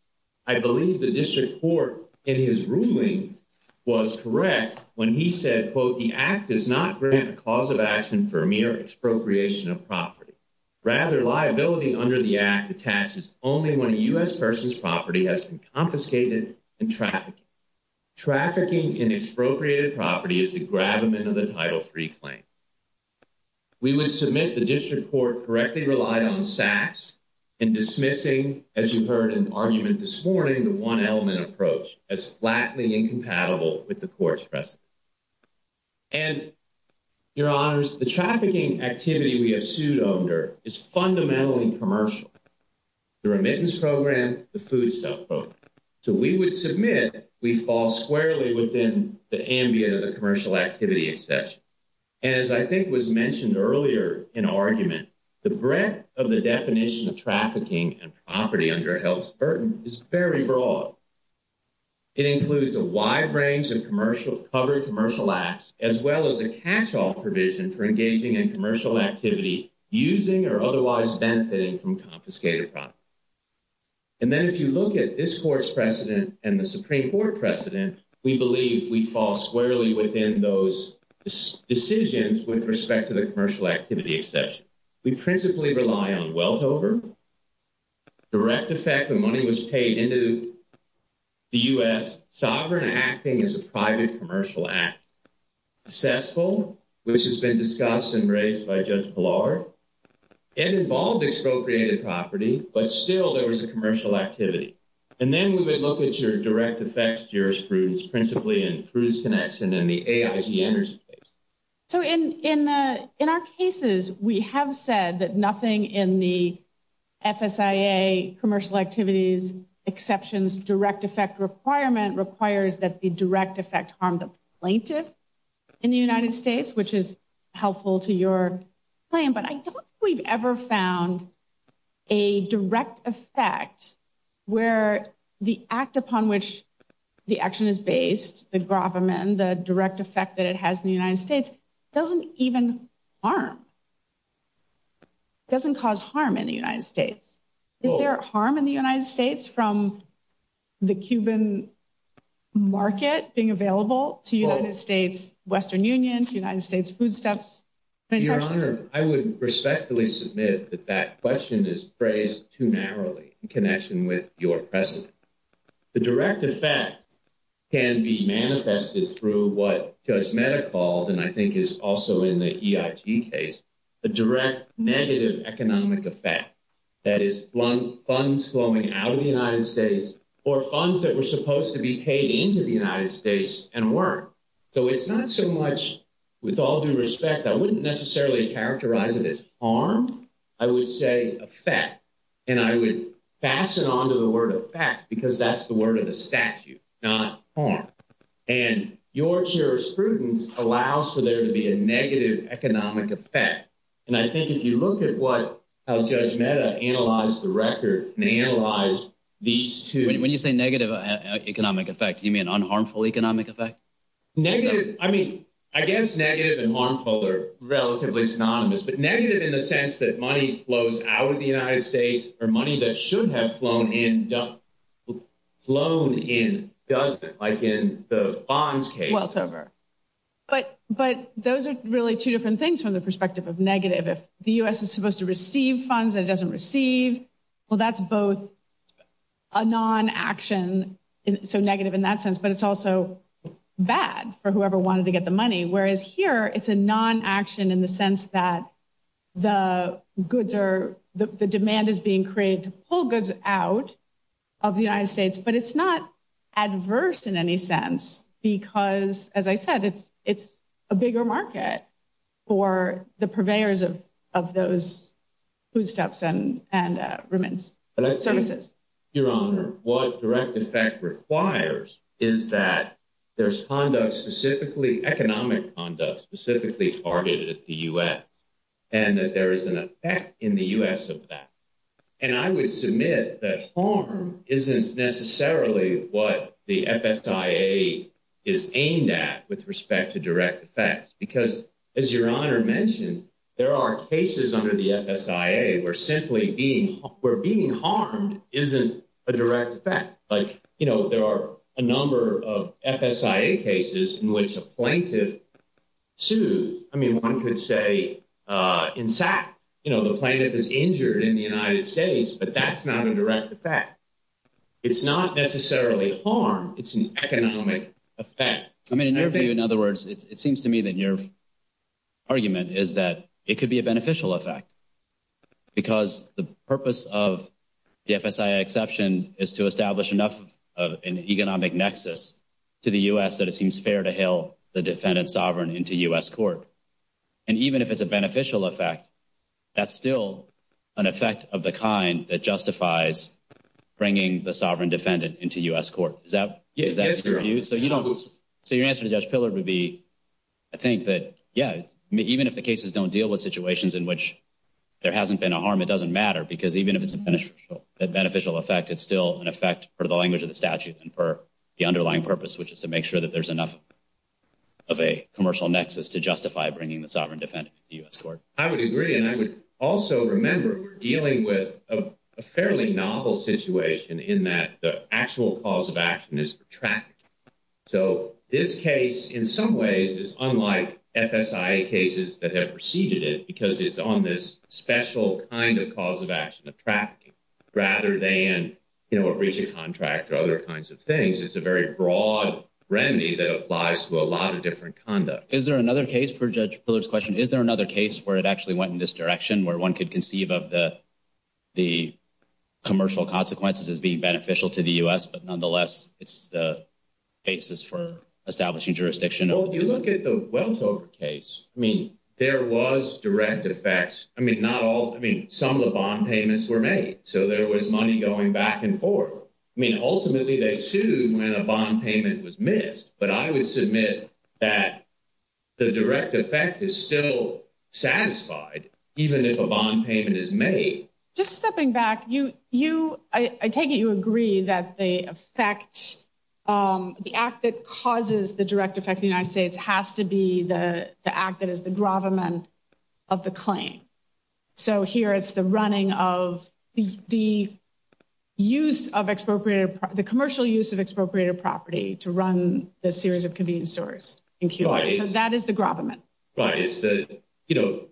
I believe the district court in his ruling was correct when he said, quote, the act does not grant a cause of action for mere expropriation of property. Rather, liability under the act attaches only when a U.S. person's property has been confiscated and trafficked. Trafficking in expropriated property is the gravamen of the Title III claim. We would submit the district court correctly relied on SACs in dismissing, as you heard in the argument this morning, the one element approach as flatly incompatible with the court's precedent. And, your honors, the trafficking activity we have sued under is fundamentally commercial. The remittance program, the food stuff program. So we would submit we fall squarely within the ambient of the commercial activity exception. And, as I think was mentioned earlier in argument, the breadth of the definition of trafficking and property under a health burden is very broad. It includes a wide range of covered commercial acts, as well as a catch-all provision for engaging in commercial activity using or otherwise benefiting from confiscated property. And then, if you look at this court's precedent and the Supreme Court precedent, we believe we fall squarely within those decisions with respect to the commercial activity exception. We principally rely on wealth over, direct effect when money was paid into the U.S., sovereign acting as a private commercial act, successful, which has been discussed and raised by Judge Ballard, and involved expropriated property, but still there was a commercial activity. And then, we would look at your direct effects jurisprudence, principally in Cruz-Senex and in the AIT interstate. So in our cases, we have said that nothing in the FSIA commercial activities exceptions direct effect requirement requires that the direct effect harm the plaintiff in the United States, which is helpful to your claim, but I don't think we've ever found a direct effect where the act upon which the action is based, the gravamen, the direct effect that it has in the United States, doesn't even harm, doesn't cause harm in the United States. Is there harm in the United States from the Cuban market being available to the United States, Western unions, United States food stamps? Your Honor, I would respectfully submit that that question is phrased too narrowly, in connection with your precedent. The direct effect can be manifested through what Judge Mehta called, and I think is also in the EIT case, the direct negative economic effect. That is, funds flowing out of the United States, or funds that were supposed to be paid into the United States, and weren't. So it's not so much, with all due respect, I wouldn't necessarily characterize it as harm. I would say effect. And I would fasten on to the word effect, because that's the word of the statute, not harm. And your jurisprudence allows for there to be a negative economic effect. And I think if you look at what Judge Mehta analyzed the record, and analyzed these two… Negative, I mean, I guess negative and harmful are relatively synonymous. But negative in the sense that money flows out of the United States, or money that should have flown in doesn't, like in the bonds case. But those are really two different things from the perspective of negative. If the U.S. is supposed to receive funds that it doesn't receive, well, that's both a non-action, so negative in that sense. But it's also bad for whoever wanted to get the money. Whereas here, it's a non-action in the sense that the goods are – the demand is being created to pull goods out of the United States. But it's not adverse in any sense because, as I said, it's a bigger market for the purveyors of those foodstuffs and services. Your Honor, what direct effect requires is that there's conduct specifically – economic conduct specifically targeted at the U.S. and that there is an effect in the U.S. of that. And I would submit that harm isn't necessarily what the FSIA is aimed at with respect to direct effects. Because, as Your Honor mentioned, there are cases under the FSIA where simply being – where being harmed isn't a direct effect. Like, you know, there are a number of FSIA cases in which a plaintiff sued. I mean, one could say, in fact, you know, the plaintiff is injured in the United States, but that's not a direct effect. It's not necessarily harm. It's an economic effect. I mean, in your view, in other words, it seems to me that your argument is that it could be a beneficial effect because the purpose of the FSIA exception is to establish an economic nexus to the U.S. that it seems fair to hail the defendant sovereign into U.S. court. And even if it's a beneficial effect, that's still an effect of the kind that justifies bringing the sovereign defendant into U.S. court. Is that your view? Yes, Your Honor. Even if the cases don't deal with situations in which there hasn't been a harm, it doesn't matter because even if it's a beneficial effect, it's still an effect for the language of the statute and for the underlying purpose, which is to make sure that there's enough of a commercial nexus to justify bringing the sovereign defendant into U.S. court. I would agree, and I would also remember dealing with a fairly novel situation in that the actual cause of action is tracked. So this case, in some ways, is unlike FSIA cases that have preceded it because it's on this special kind of cause of action of trafficking rather than a reaching contract or other kinds of things. It's a very broad remedy that applies to a lot of different conduct. Is there another case, for Judge Fuller's question, is there another case where it actually went in this direction, where one could conceive of the commercial consequences as being beneficial to the U.S., but nonetheless, it's the cases for establishing jurisdiction? Well, if you look at the Webster case, I mean, there was direct effects. I mean, some of the bond payments were made, so there was money going back and forth. I mean, ultimately, they sued when a bond payment was missed, but I would submit that the direct effect is still satisfied even if a bond payment is made. Just stepping back, I take it you agree that the act that causes the direct effect of the United States has to be the act that is the gravamen of the claim. So here it's the running of the commercial use of expropriated property to run the series of convenience stores in Cuba. So that is the gravamen. Right. You know,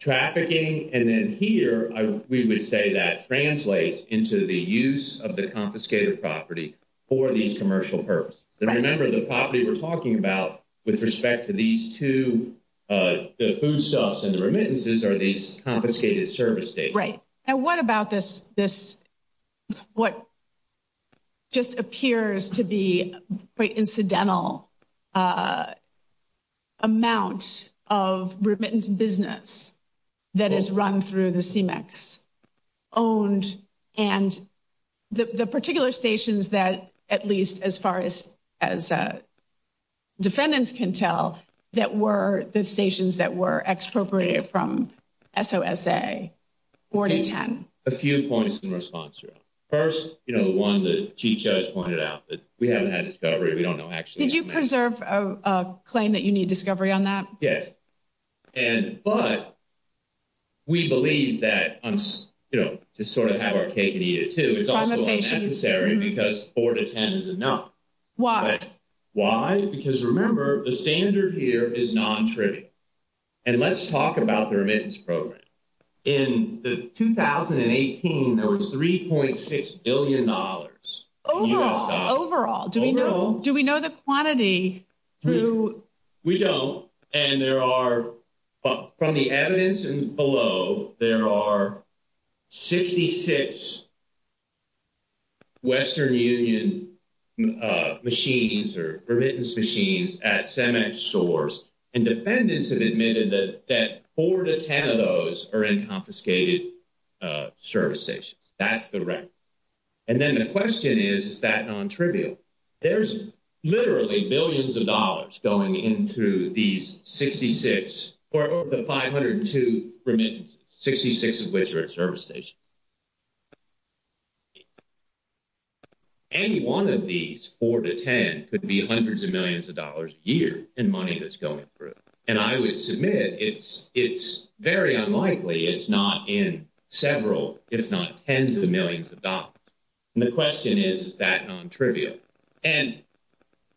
trafficking, and then here, we would say that translates into the use of the confiscated property for the commercial purpose. Remember, the property we're talking about with respect to these two, the food stuffs and the remittances are these confiscated service data. Right. And what about this, what just appears to be quite incidental amount of remittance business that is run through the CMEX owned and the particular stations that, at least as far as defendants can tell, that were the stations that were expropriated from SOSA 4 to 10? A few points in response to that. First, you know, one that Chief Judge pointed out that we haven't had discovery. We don't know actually. Did you preserve a claim that you need discovery on that? Yes. But we believe that, you know, to sort of have our cake and eat it too, it's also unnecessary because 4 to 10 is enough. Why? Why? Because remember, the standard here is non-trivial. And let's talk about the remittance program. In the 2018, there was $3.6 billion. Overall. Overall. Do we know the quantity? We don't. And there are, from the evidence below, there are 66 Western Union machines or remittance machines at CMEX stores. And defendants have admitted that 4 to 10 of those are in confiscated service stations. That's the rent. And then the question is, is that non-trivial? There's literally billions of dollars going into these 66 or over the 502 remittances, 66 of which are at service stations. Any one of these, 4 to 10, could be hundreds of millions of dollars a year in money that's going through. And I would submit it's very unlikely it's not in several, if not tens of millions of dollars. And the question is, is that non-trivial? And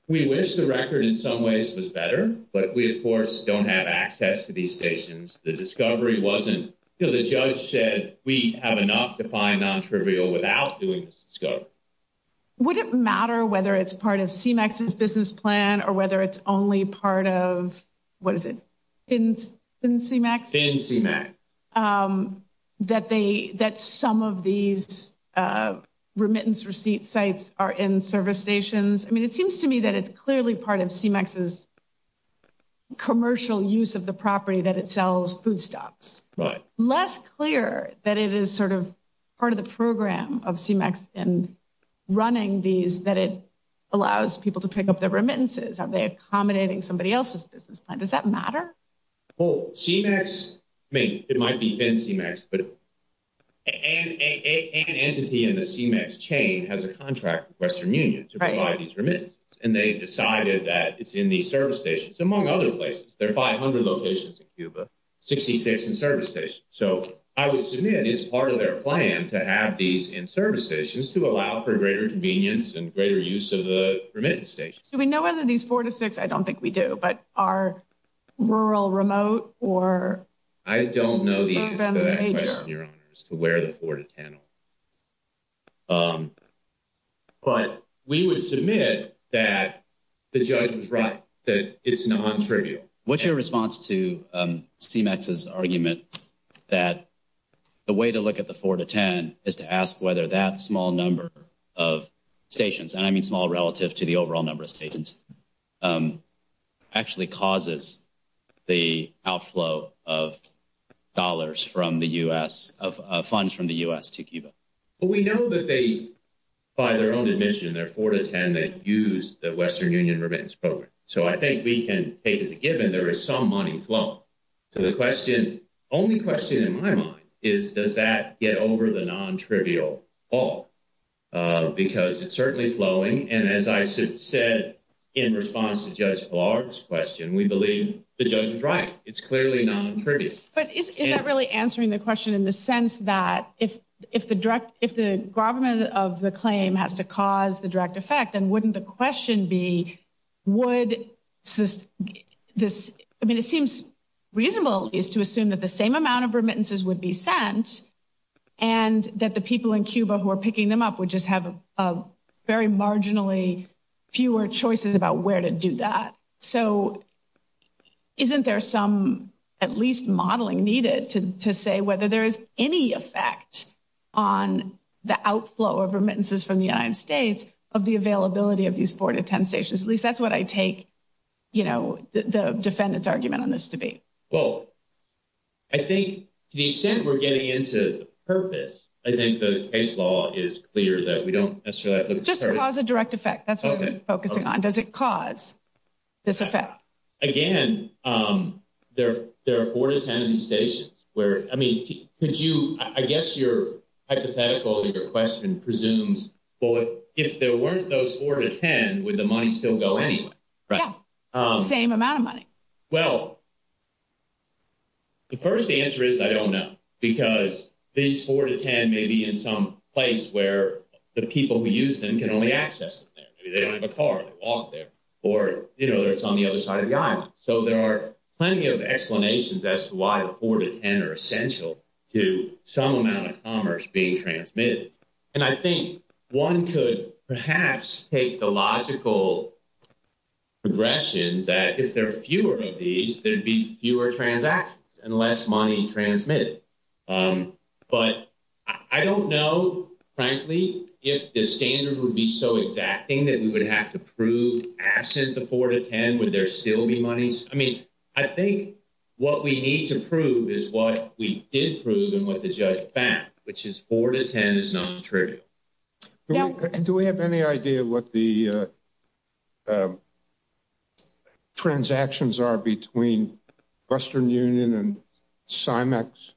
we wish the record in some ways was better, but we, of course, don't have access to these stations. The discovery wasn't, you know, the judge said we have enough to find non-trivial without doing this discovery. Would it matter whether it's part of CMEX's business plan or whether it's only part of, what is it, in CMEX? In CMEX. That some of these remittance receipt sites are in service stations. I mean, it seems to me that it's clearly part of CMEX's commercial use of the property that it sells food stocks. Right. Less clear that it is sort of part of the program of CMEX and running these that it allows people to pick up their remittances. Are they accommodating somebody else's business plan? Does that matter? Well, CMEX, I mean, it might be thin CMEX, but an entity in the CMEX chain has a contract with Western Union to provide these remittances. Right. And they decided that it's in these service stations, among other places. There are 500 locations in Cuba, 66 in service stations. So I would submit it's part of their plan to have these in service stations to allow for greater convenience and greater use of the remittance stations. Do we know whether these 4-6, I don't think we do, but are rural, remote, or? I don't know the answer to where the 4-10 is. But we would submit that it's non-trivial. What's your response to CMEX's argument that the way to look at the 4-10 is to ask whether that small number of stations, and I mean small relative to the overall number of stations, actually causes the outflow of dollars from the U.S., of funds from the U.S. to Cuba? Well, we know that they, by their own admission, their 4-10, they've used the Western Union Remittance Program. So I think we can take it as a given there is some money flow. So the question, only question in my mind, is does that get over the non-trivial fall? Because it's certainly flowing, and as I said in response to Judge Clark's question, we believe the judge is right. It's clearly non-trivial. But is that really answering the question in the sense that if the government of the claim has to cause the direct effect, then wouldn't the question be would this, I mean it seems reasonable to assume that the same amount of remittances would be sent, and that the people in Cuba who are picking them up would just have very marginally fewer choices about where to do that. So isn't there some at least modeling needed to say whether there is any effect on the outflow of remittances from the United States of the availability of these 4-10 stations? At least that's what I take, you know, the defendant's argument on this debate. Well, I think to the extent we're getting into purpose, I think the case law is clear that we don't necessarily have to... Does it cause a direct effect? That's what we're focusing on. Does it cause this effect? Again, there are 4-10 stations where, I mean, could you, I guess your hypothetical, your question presumes, well, if there weren't those 4-10, would the money still go anywhere? Yeah, same amount of money. Well, the first answer is I don't know, because these 4-10 may be in some place where the people who use them can only access them. They don't have a car, they walk there, or, you know, it's on the other side of the aisle. So there are plenty of explanations as to why the 4-10 are essential to some amount of commerce being transmitted. And I think one could perhaps take the logical progression that if there are fewer of these, there'd be fewer transactions and less money transmitted. But I don't know, frankly, if the standard would be so exacting that we would have to prove absence of 4-10, would there still be money? I mean, I think what we need to prove is what we did prove and what the judge found, which is 4-10 is not true. Do we have any idea what the transactions are between Western Union and CIMEX?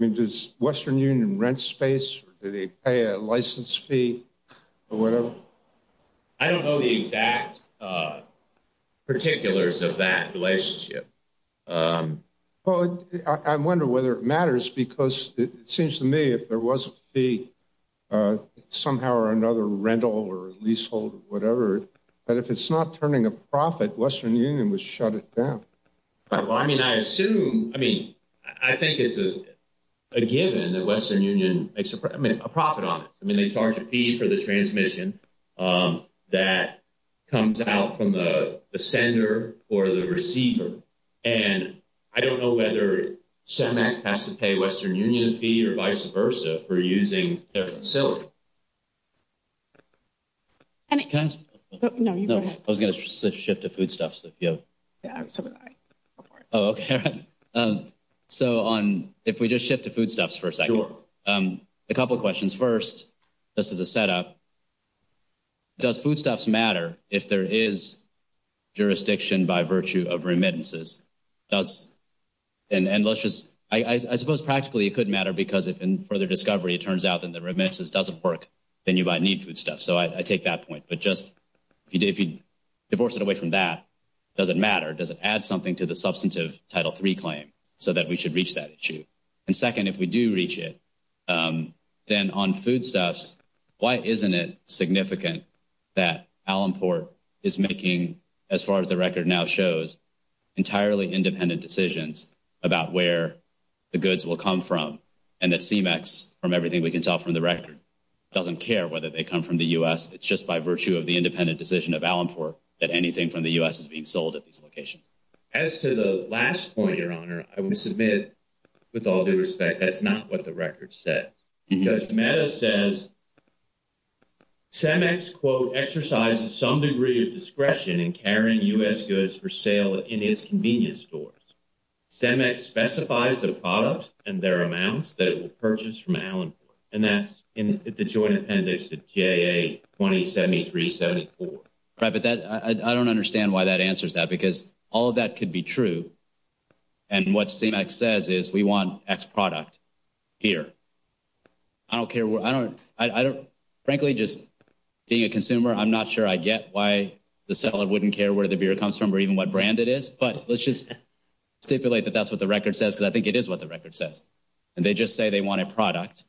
Does Western Union rent space or do they pay a license fee or whatever? I don't know the exact particulars of that relationship. Well, I wonder whether it matters, because it seems to me if there was a fee, somehow or another rental or leasehold or whatever, that if it's not turning a profit, Western Union would shut it down. Well, I mean, I assume, I mean, I think it's a given that Western Union makes a profit on it. I mean, they charge a fee for the transmission that comes out from the sender or the receiver. And I don't know whether CIMEX has to pay Western Union a fee or vice versa for using their facility. I was going to shift to foodstuffs. So if we just shift to foodstuffs for a second. Sure. A couple of questions. First, just as a setup, does foodstuffs matter if there is jurisdiction by virtue of remittances? And let's just, I suppose practically it could matter because if in further discovery it turns out that the remittances doesn't work, then you might need foodstuffs. So I take that point. But just, if you divorce it away from that, does it matter? Does it add something to the substantive Title III claim so that we should reach that issue? And second, if we do reach it, then on foodstuffs, why isn't it significant that Alamport is making, as far as the record now shows, entirely independent decisions about where the goods will come from? And that CIMEX, from everything we can tell from the record, doesn't care whether they come from the U.S. It's just by virtue of the independent decision of Alamport that anything from the U.S. is being sold at this location. As to the last point, Your Honor, I want to submit, with all due respect, that's not what the record said. Judge Meadows says CIMEX, quote, exercises some degree of discretion in carrying U.S. goods for sale in its convenience stores. CIMEX specifies the products and their amounts that it will purchase from Alamport. And that's in the joint appendix of TAA 2073-74. I don't understand why that answers that, because all of that could be true. And what CIMEX says is we want X product here. I don't care where – I don't – frankly, just being a consumer, I'm not sure I get why the seller wouldn't care where the beer comes from or even what brand it is. But let's just stipulate that that's what the record says, because I think it is what the record says. And they just say they want a product.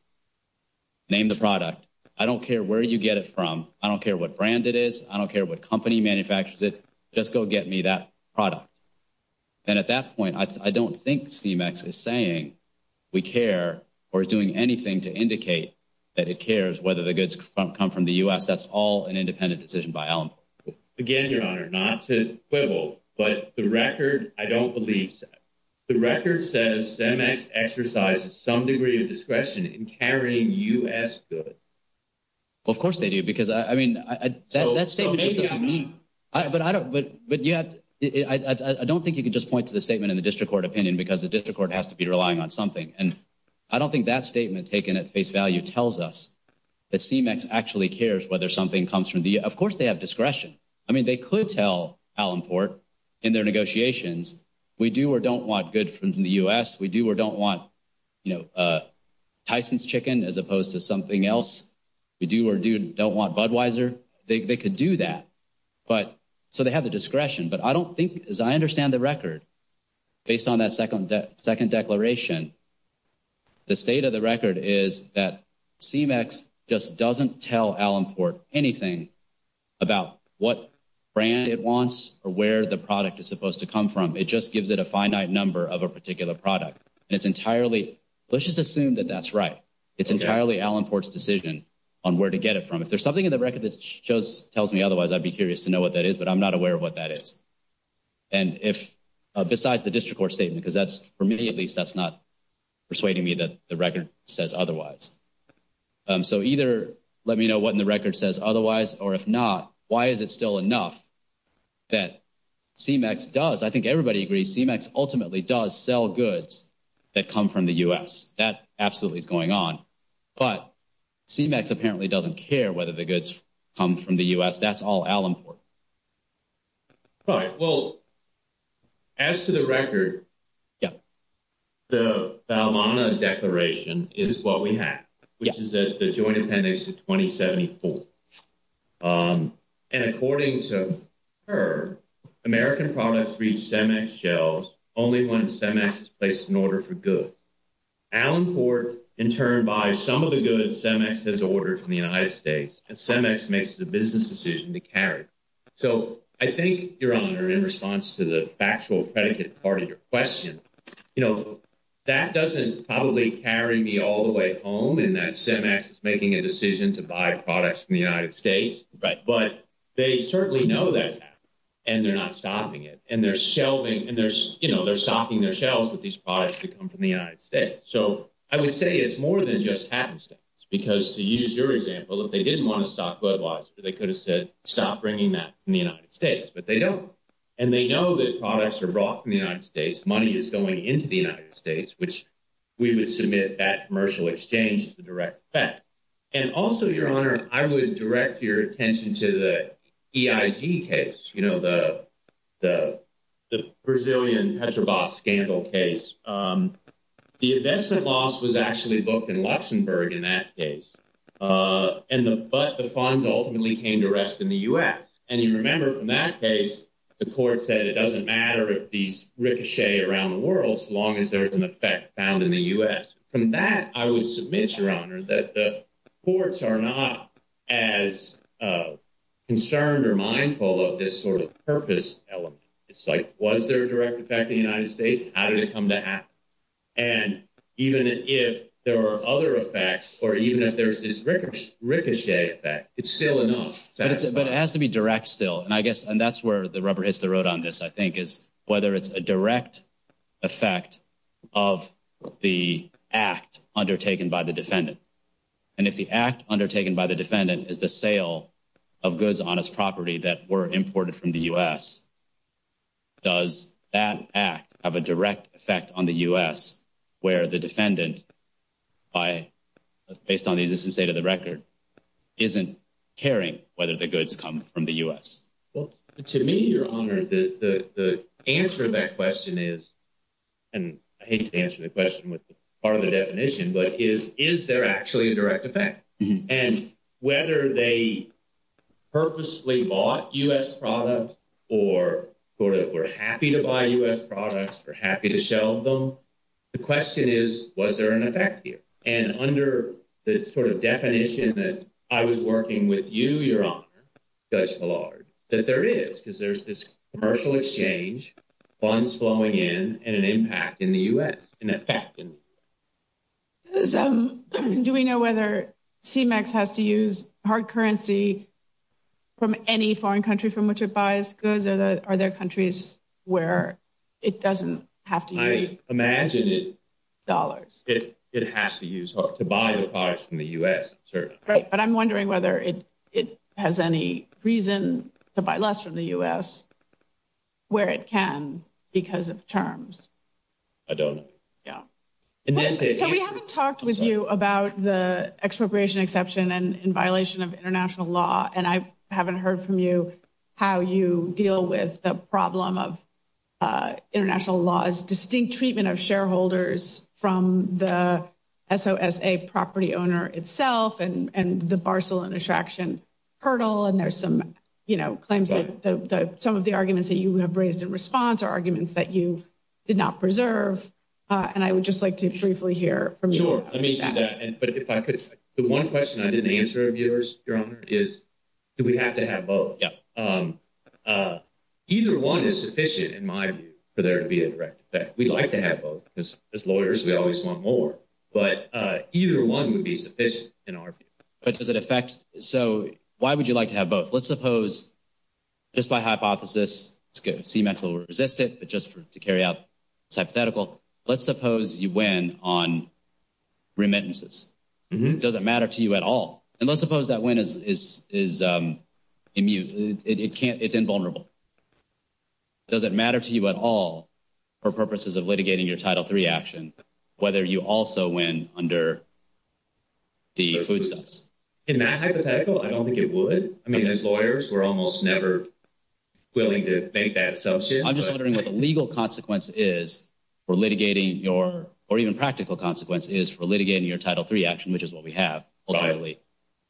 Name the product. I don't care where you get it from. I don't care what brand it is. I don't care what company manufactures it. Just go get me that product. And at that point, I don't think CIMEX is saying we care or is doing anything to indicate that it cares whether the goods come from the U.S. That's all an independent decision by Alamport. Again, Your Honor, not to quibble, but the record, I don't believe, the record says CIMEX exercises some degree of discretion in carrying U.S. goods. Well, of course they do, because, I mean – Well, maybe I mean. But I don't – but you have – I don't think you can just point to the statement in the district court opinion because the district court has to be relying on something. And I don't think that statement taken at face value tells us that CIMEX actually cares whether something comes from the – of course they have discretion. I mean, they could tell Alamport in their negotiations we do or don't want goods from the U.S., we do or don't want Tyson's Chicken as opposed to something else. We do or don't want Budweiser. They could do that. But – so they have the discretion. But I don't think – as I understand the record, based on that second declaration, the state of the record is that CIMEX just doesn't tell Alamport anything about what brand it wants or where the product is supposed to come from. It just gives it a finite number of a particular product. It's entirely – let's just assume that that's right. It's entirely Alamport's decision on where to get it from. If there's something in the record that just tells me otherwise, I'd be curious to know what that is, but I'm not aware of what that is. And if – besides the district court statement, because that's – for me, at least, that's not persuading me that the record says otherwise. So either let me know what in the record says otherwise, or if not, why is it still enough that CIMEX does – I think everybody agrees CIMEX ultimately does sell goods that come from the U.S. That's absolutely going on. But CIMEX apparently doesn't care whether the goods come from the U.S. That's all Alamport. All right. Well, as to the record, the Almana declaration is what we have, which is the Joint Appendix of 2074. And according to her, American products reach CIMEX shelves only when CIMEX is placed in order for goods. Alamport, in turn, buys some of the goods that CIMEX has ordered from the United States that CIMEX makes the business decision to carry. So I think, Your Honor, in response to the factual predicate part of your question, you know, that doesn't probably carry me all the way home in that CIMEX is making a decision to buy products from the United States. Right. But they certainly know that happens, and they're not stopping it. And they're shelving – and they're – you know, they're stocking their shelves with these products that come from the United States. So I would say it's more than just happenstance, because to use your example, if they didn't want to stop glove laws, they could have said, stop bringing that from the United States. But they don't. And they know that products are brought from the United States. Money is going into the United States, which we would submit that commercial exchange as a direct effect. And also, Your Honor, I would direct your attention to the EIG case, you know, the Brazilian Petrobras scandal case. The investment loss was actually booked in Luxembourg in that case, but the funds ultimately came to rest in the U.S. And you remember, in that case, the court said it doesn't matter if these ricochet around the world as long as there's an effect found in the U.S. From that, I would submit, Your Honor, that the courts are not as concerned or mindful of this sort of purpose element. It's like, was there a direct effect in the United States? How did it come to happen? And even if there are other effects or even if there's this ricochet effect, it's still enough. But it has to be direct still. And I guess that's where the rubber hits the road on this, I think, is whether it's a direct effect of the act undertaken by the defendant. And if the act undertaken by the defendant is the sale of goods on his property that were imported from the U.S., does that act have a direct effect on the U.S. where the defendant, based on the existing state of the record, isn't caring whether the goods come from the U.S.? Well, to me, Your Honor, the answer to that question is – and I hate to answer the question with part of the definition – but is there actually a direct effect? And whether they purposely bought U.S. products or were happy to buy U.S. products or happy to sell them, the question is, was there an effect here? And under the sort of definition that I was working with you, Your Honor, says the Lord, that there is, because there's this commercial exchange, funds flowing in, and an impact in the U.S. So do we know whether CMEX has to use hard currency from any foreign country from which it buys goods, or are there countries where it doesn't have to use dollars? I imagine it has to use – to buy the products from the U.S., certainly. But I'm wondering whether it has any reason to buy less from the U.S. where it can because of terms. I don't know. So we haven't talked with you about the expropriation exception in violation of international law. And I haven't heard from you how you deal with the problem of international law's distinct treatment of shareholders from the SOSA property owner itself and the parcel and extraction hurdle. And there's some, you know, claims that – some of the arguments that you have raised in response are arguments that you did not preserve. And I would just like to briefly hear from you. Sure. Let me see that. But if I could, the one question I didn't answer, Your Honor, is do we have to have both? Yeah. Either one is sufficient in my view for there to be a direct effect. We'd like to have both. As lawyers, we always want more. But either one would be sufficient in our view. But does it affect – so why would you like to have both? Let's suppose just by hypothesis, to seem a little resistant, but just to carry out hypothetical, let's suppose you win on remittances. Does it matter to you at all? And let's suppose that win is – it's invulnerable. Does it matter to you at all for purposes of litigating your Title III action whether you also win under the food stamps? In that hypothetical, I don't think it would. I mean, as lawyers, we're almost never willing to make that substitution. I'm just wondering what the legal consequence is for litigating your – or even practical consequence is for litigating your Title III action, which is what we have, ultimately,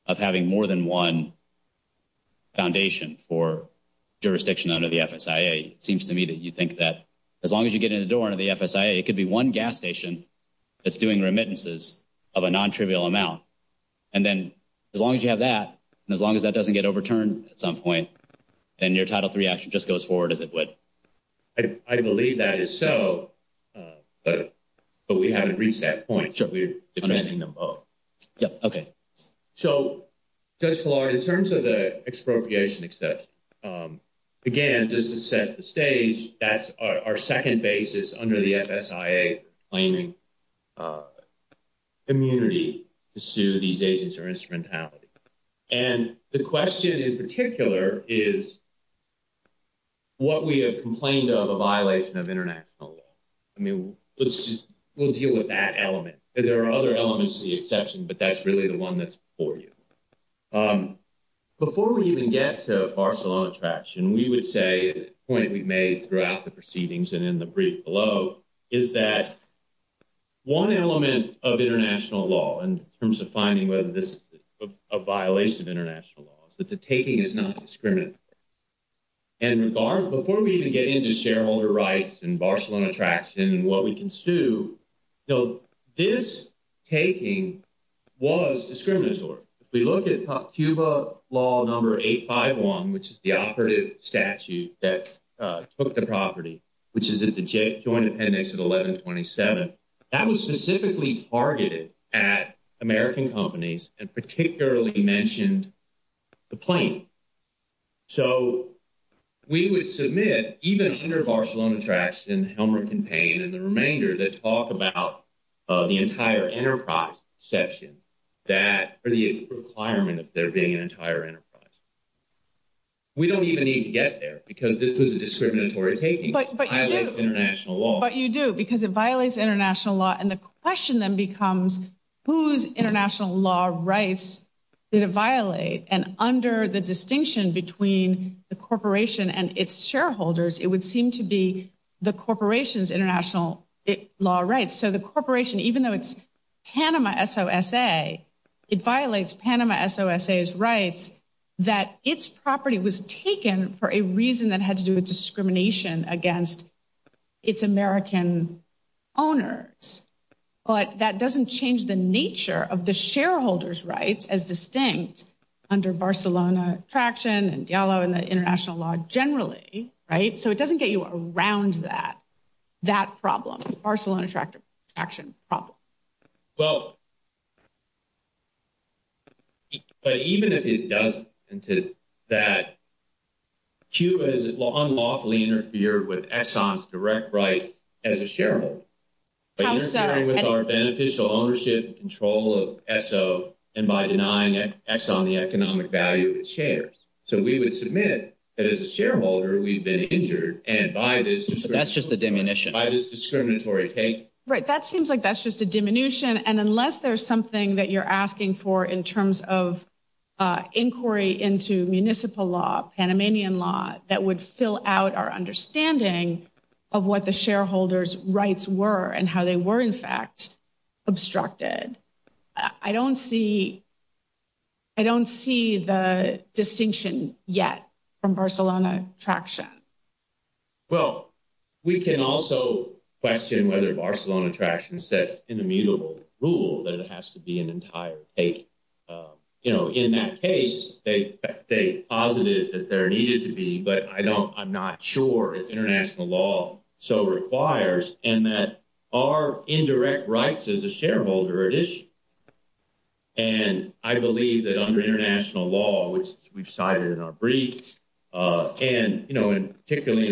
of having more than one foundation for jurisdiction under the FSIA. It seems to me that you think that as long as you get in the door under the FSIA, it could be one gas station that's doing remittances of a non-trivial amount. And then as long as you have that, and as long as that doesn't get overturned at some point, then your Title III action just goes forward as it would. I believe that is so, but we haven't reached that point. So we're defending them both. Okay. So, Judge Gillard, in terms of the expropriation exception, again, just to set the stage, that's our second basis under the FSIA claiming immunity to these agents or instrumentality. And the question in particular is what we have complained of a violation of international law. I mean, let's just – we'll deal with that element. There are other elements to the exception, but that's really the one that's before you. Before we even get to Barcelona Traction, we would say, the point we've made throughout the proceedings and in the brief below, is that one element of international law in terms of finding whether this is a violation of international law is that the taking is not discriminatory. And before we even get into shareholder rights and Barcelona Traction and what we can do, this taking was discriminatory. If we look at Cuba Law Number 851, which is the operative statute that took the property, which is in the Joint Appendix of 1127, that was specifically targeted at American companies and particularly mentioned the plaintiff. So we would submit, even under Barcelona Traction, Helmut Kampain, and the remainder that talk about the entire enterprise section that – or the requirement of there being an entire enterprise. We don't even need to get there because this was a discriminatory taking. But you do, because it violates international law. And the question then becomes, whose international law rights did it violate? And under the distinction between the corporation and its shareholders, it would seem to be the corporation's international law rights. So the corporation, even though it's Panama S.O.S.A., it violates Panama S.O.S.A.'s rights that its property was taken for a reason that had to do with discrimination against its American owners. But that doesn't change the nature of the shareholders' rights as distinct under Barcelona Traction and Diallo and the international law generally, right? So it doesn't get you around that problem, Barcelona Traction problem. Well, but even if it doesn't, that Cuba is unlawfully interfered with Exxon's direct rights as a shareholder. How is that? By interfering with our beneficial ownership and control of Exxon and by denying Exxon the economic value of its shares. So we would submit that as a shareholder, we've been injured, and by this – So that's just a diminution. By this discriminatory taking. Right, that seems like that's just a diminution. And unless there's something that you're asking for in terms of inquiry into municipal law, Panamanian law, that would fill out our understanding of what the shareholders' rights were and how they were, in fact, obstructed. I don't see the distinction yet from Barcelona Traction. Well, we can also question whether Barcelona Traction sets an immutable rule that it has to be an entire case. You know, in that case, they posited that there needed to be, but I'm not sure international law so requires, and that our indirect rights as a shareholder are at issue. And I believe that under international law, which we've cited in our brief, and, you know, particularly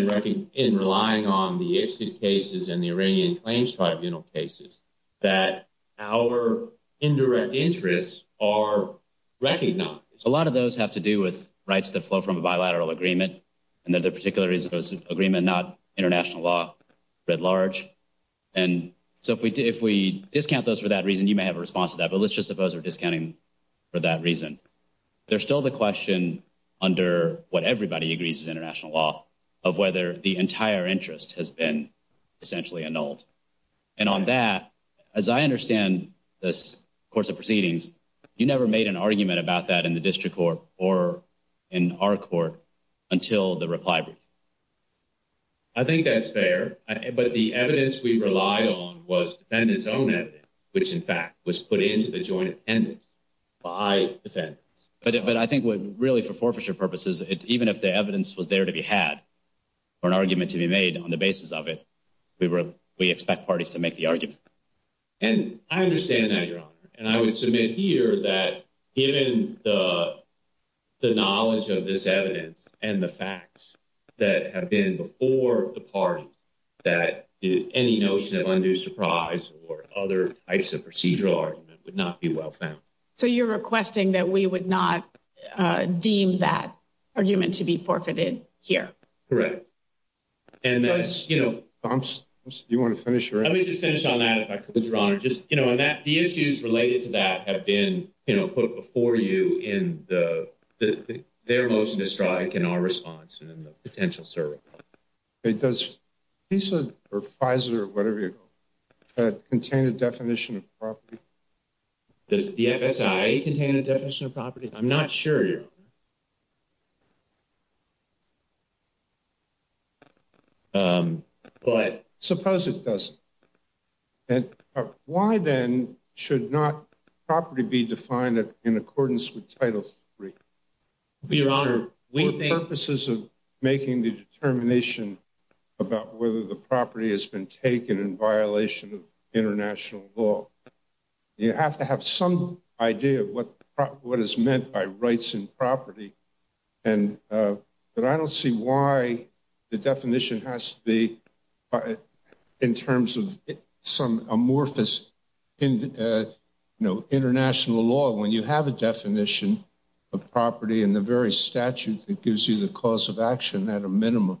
in relying on the ICPSC cases and the Iranian claims tribunal cases, that our indirect interests are recognized. A lot of those have to do with rights that flow from a bilateral agreement. Another particular reason was agreement, not international law writ large. And so if we discount those for that reason, you may have a response to that, but let's just suppose we're discounting for that reason. There's still the question under what everybody agrees is international law of whether the entire interest has been essentially annulled. And on that, as I understand this course of proceedings, you never made an argument about that in the district court or in our court until the reply brief. I think that's fair, but the evidence we relied on was defendants' own evidence, which, in fact, was put into the joint attendance by defendants. But I think, really, for forfeiture purposes, even if the evidence was there to be had or an argument to be made on the basis of it, we expect parties to make the argument. And I understand that, Your Honor. And I would submit here that given the knowledge of this evidence and the facts that have been before the party, that any notion of undue surprise or other types of procedural argument would not be well found. So you're requesting that we would not deem that argument to be forfeited here? Correct. And that's, you know, you want to finish? Let me just finish on that, if I could, Your Honor. Just, you know, the issues related to that have been, you know, put before you in their most misdiagnostic in our response and in the potential service. Does FISA or Pfizer or whatever contain a definition of forfeiture? Does the FSI contain a definition of forfeiture? I'm not sure, Your Honor. But. Suppose it doesn't. Why, then, should not property be defined in accordance with title three? Your Honor, we think. The purposes of making the determination about whether the property has been taken in violation of international law, you have to have some idea of what is meant by rights and property. But I don't see why the definition has to be in terms of some amorphous international law when you have a definition of property and the very statute that gives you the cause of action at a minimum.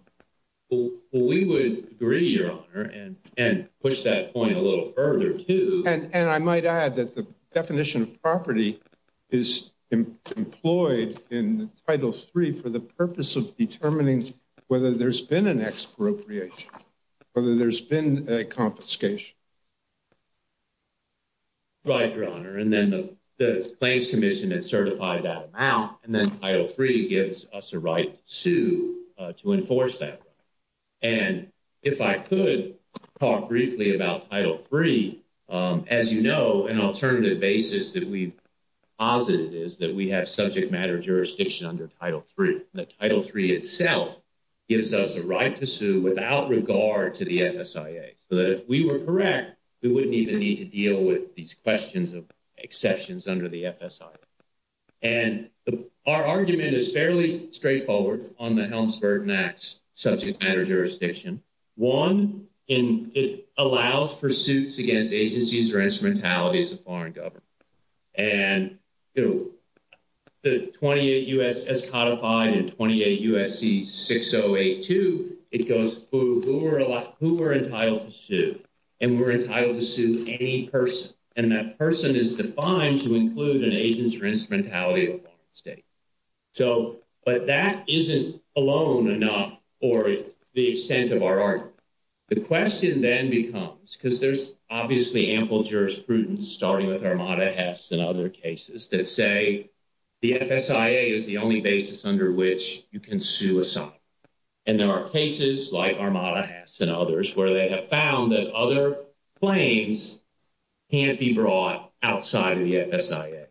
Well, we would agree, Your Honor, and push that point a little further, too. And I might add that the definition of property is employed in title three for the purpose of determining whether there's been an expropriation, whether there's been a confiscation. Right, Your Honor. And then the claims commission has certified that amount, and then title three gives us a right to enforce that. And if I could talk briefly about title three, as you know, an alternative basis that we've posited is that we have subject matter jurisdiction under title three. And title three itself gives us a right to sue without regard to the FSIA. So that if we were correct, we wouldn't even need to deal with these questions of exceptions under the FSIA. And our argument is fairly straightforward on the Helms-Burton Act's subject matter jurisdiction. One, it allows for suits against agencies or instrumentalities of foreign government. And two, the 28 U.S.S. Codified and 28 U.S.C. 6082, it goes through who we're entitled to sue, and we're entitled to sue any person. And that person is defined to include an agent or instrumentality of the state. So, but that isn't alone enough for the extent of our argument. The question then becomes, because there's obviously ample jurisprudence, starting with Armada Hess and other cases, that say the FSIA is the only basis under which you can sue a site. And there are cases, like Armada Hess and others, where they have found that other claims can't be brought outside of the FSIA.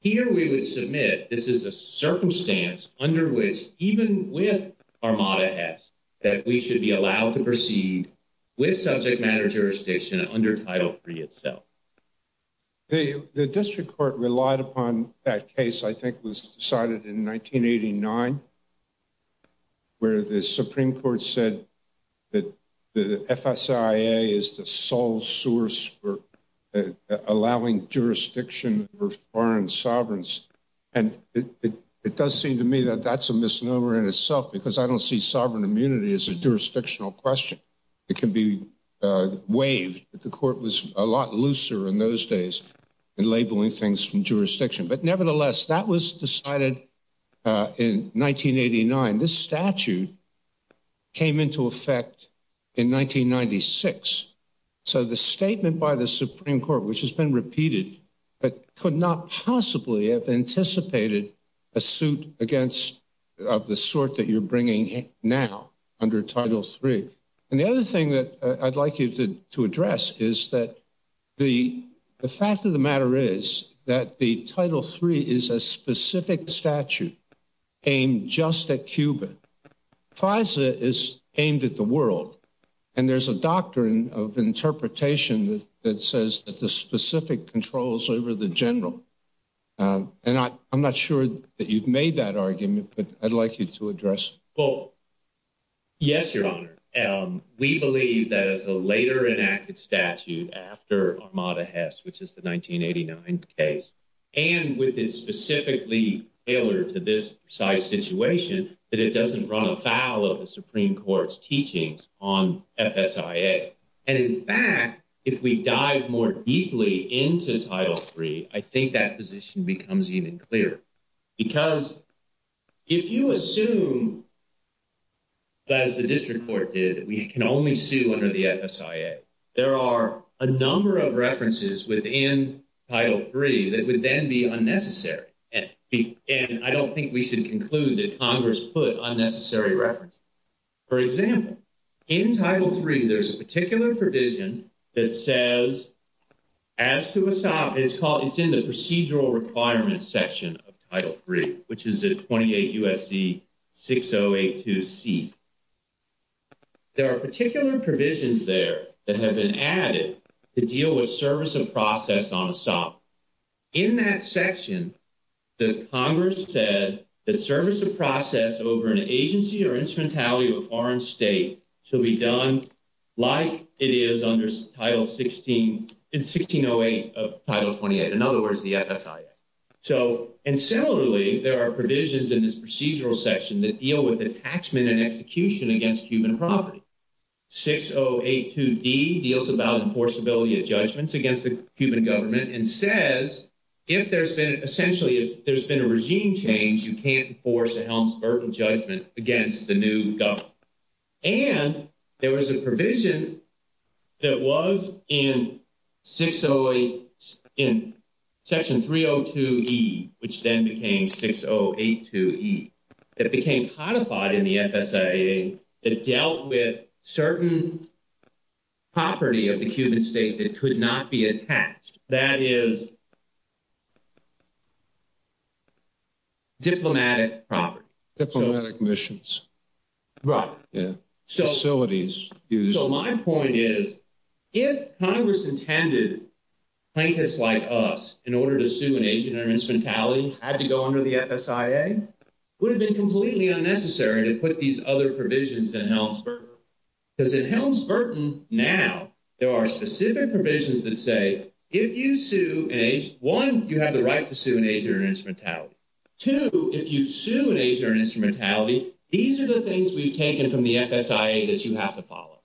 Here we would submit this is a circumstance under which, even with Armada Hess, that we should be allowed to proceed with subject matter jurisdiction under Title III itself. The district court relied upon that case, I think was decided in 1989, where the Supreme Court said that the FSIA is the sole source for allowing jurisdiction for foreign sovereigns. And it does seem to me that that's a misnomer in itself, because I don't see sovereign immunity as a jurisdictional question. It can be waived, but the court was a lot looser in those days in labeling things from jurisdiction. But nevertheless, that was decided in 1989. This statute came into effect in 1996. So the statement by the Supreme Court, which has been repeated, could not possibly have anticipated a suit of the sort that you're bringing now under Title III. And the other thing that I'd like you to address is that the fact of the matter is that the Title III is a specific statute aimed just at Cuba. FISA is aimed at the world. And there's a doctrine of interpretation that says that the specific controls over the general. And I'm not sure that you've made that argument, but I'd like you to address it. Well, yes, Your Honor. We believe that as a later enacted statute after Ahmada Hess, which is the 1989 case, and with it specifically tailored to this precise situation, that it doesn't run afoul of the Supreme Court's teachings on FSIA. And in fact, if we dive more deeply into Title III, I think that position becomes even clearer. Because if you assume that, as the district court did, we can only sue under the FSIA, there are a number of references within Title III that would then be unnecessary. And I don't think we should conclude that Congress put unnecessary references. For example, in Title III, there's a particular provision that says, as to ESOP, it's in the procedural requirements section of Title III, which is at 28 U.S.C. 6082C. There are particular provisions there that have been added to deal with service of process on ESOP. In that section, the Congress said that service of process over an agency or instrumentality of a foreign state shall be done like it is under 1608 of Title XXVIII, in other words, the FSIA. So, and similarly, there are provisions in this procedural section that deal with attachment and execution against human property. 6082D deals about enforceability of judgments against the human government and says, if there's been – essentially, if there's been a regime change, you can't enforce a Helms-Berger judgment against the new government. And there was a provision that was in 608 – in section 302E, which then became 6082E, that became codified in the FSIA that dealt with certain property of the human state that could not be attached. That is diplomatic property. Diplomatic missions. Right. Facilities. So my point is, if Congress intended plaintiffs like us, in order to sue an agent or instrumentality, had to go under the FSIA, it would have been completely unnecessary to put these other provisions in Helms-Berger. Because in Helms-Bergen now, there are specific provisions that say, if you sue an agent – one, you have the right to sue an agent or instrumentality. Two, if you sue an agent or instrumentality, these are the things we've taken from the FSIA that you have to follow.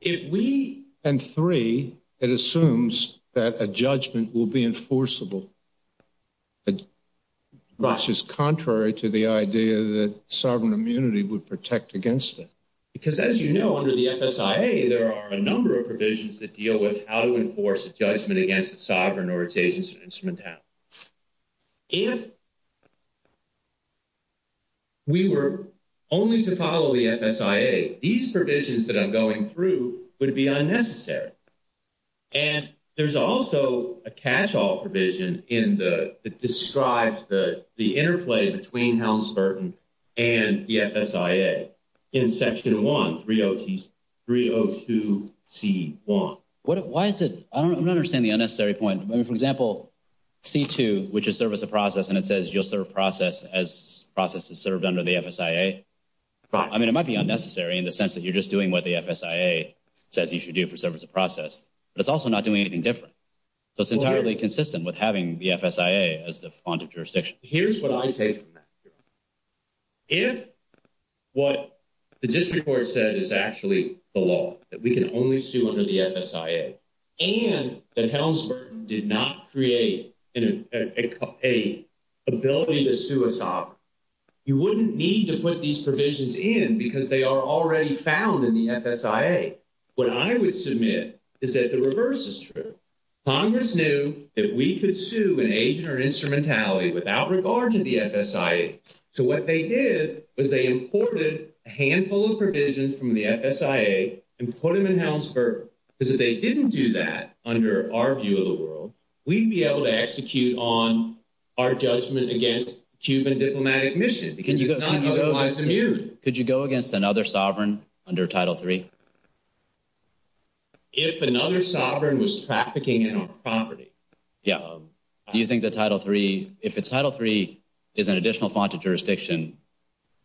If we – and three, it assumes that a judgment will be enforceable, which is contrary to the idea that sovereign immunity would protect against it. Because as you know, under the FSIA, there are a number of provisions that deal with how to enforce a judgment against a sovereign or its agents or instrumentality. If we were only to follow the FSIA, these provisions that I'm going through would be unnecessary. And there's also a catch-all provision in the – that describes the interplay between Helms-Bergen and the FSIA in Section 1, 302c1. Why is it – I don't understand the unnecessary point. I mean, for example, C2, which is service of process, and it says you'll serve process as process is served under the FSIA. I mean, it might be unnecessary in the sense that you're just doing what the FSIA says you should do for service of process. But it's also not doing anything different. So it's entirely consistent with having the FSIA as the fondant jurisdiction. Here's what I take from that. If what the district court said is actually the law, that we can only sue under the FSIA, and that Helms-Bergen did not create an ability to sue a sovereign, you wouldn't need to put these provisions in because they are already found in the FSIA. What I would submit is that the reverse is true. Congress knew that we could sue an agent or instrumentality without regard to the FSIA. So what they did was they imported a handful of provisions from the FSIA and put them in Helms-Bergen. Because if they didn't do that under our view of the world, we'd be able to execute on our judgment against Cuban diplomatic mission. Could you go against another sovereign under Title III? If another sovereign was trafficking in our property? Yeah. Do you think that Title III – if Title III is an additional fondant jurisdiction,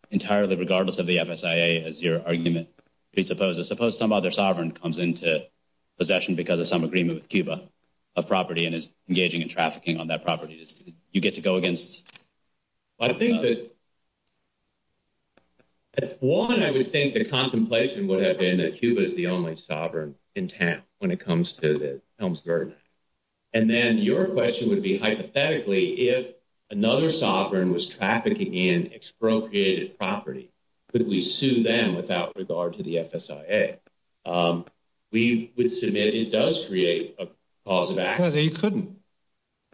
entirely regardless of the FSIA, as your argument presupposes, suppose some other sovereign comes into possession because of some agreement with Cuba, a property, and is engaging in trafficking on that property. Do you get to go against – I think that – one, I would think the contemplation would have been that Cuba is the only sovereign in TAMP when it comes to Helms-Bergen. And then your question would be, hypothetically, if another sovereign was trafficking in expropriated property, could we sue them without regard to the FSIA? We would submit it does create a cause of action. You couldn't.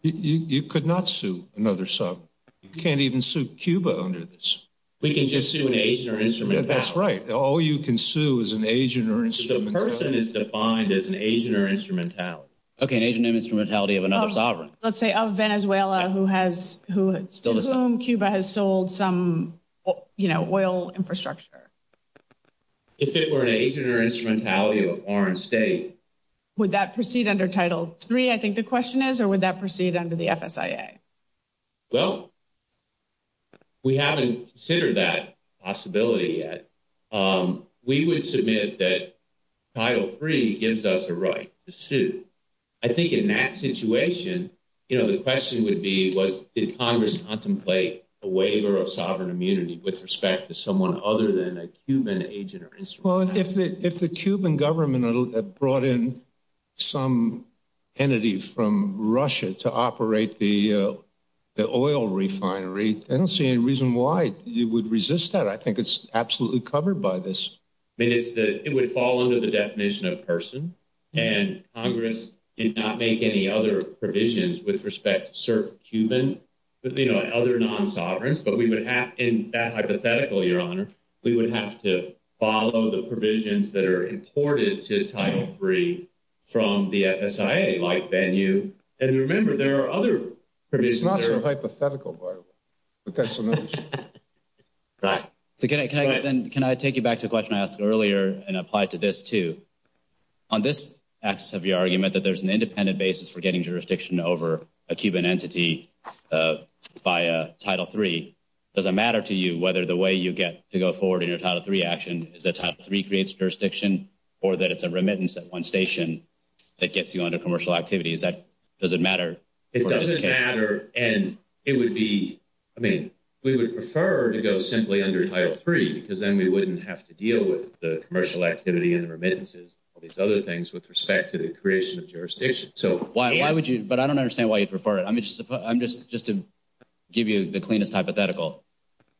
You could not sue another sovereign. You can't even sue Cuba under this. We can just sue an agent or instrumentality. That's right. All you can sue is an agent or instrumentality. The person is defined as an agent or instrumentality. Okay, an agent or instrumentality of another sovereign. Let's say of Venezuela, who has – to whom Cuba has sold some, you know, oil infrastructure. If it were an agent or instrumentality of a foreign state? Would that proceed under Title III, I think the question is, or would that proceed under the FSIA? Well, we haven't considered that possibility yet. We would submit that Title III gives us a right to sue. I think in that situation, you know, the question would be, like, did Congress contemplate a waiver of sovereign immunity with respect to someone other than a Cuban agent or instrumentality? Well, if the Cuban government had brought in some entity from Russia to operate the oil refinery, I don't see any reason why you would resist that. I think it's absolutely covered by this. It would fall under the definition of a person, and Congress did not make any other provisions with respect to certain Cubans, you know, other non-sovereigns. But we would have – in that hypothetical, Your Honor, we would have to follow the provisions that are important to Title III from the FSIA, like Van U. And remember, there are other provisions there. It's not the hypothetical part. Can I take you back to the question I asked earlier and apply it to this, too? On this axis of your argument that there's an independent basis for getting jurisdiction over a Cuban entity via Title III, does it matter to you whether the way you get to go forward in your Title III action is that Title III creates jurisdiction or that it's a remittance at one station that gets you under commercial activity? Does it matter? It doesn't matter, and it would be – I mean, we would prefer to go simply under Title III because then we wouldn't have to deal with the commercial activity and remittances and all these other things with respect to the creation of jurisdiction. So why would you – but I don't understand why you'd prefer it. I mean, just to give you the cleanest hypothetical,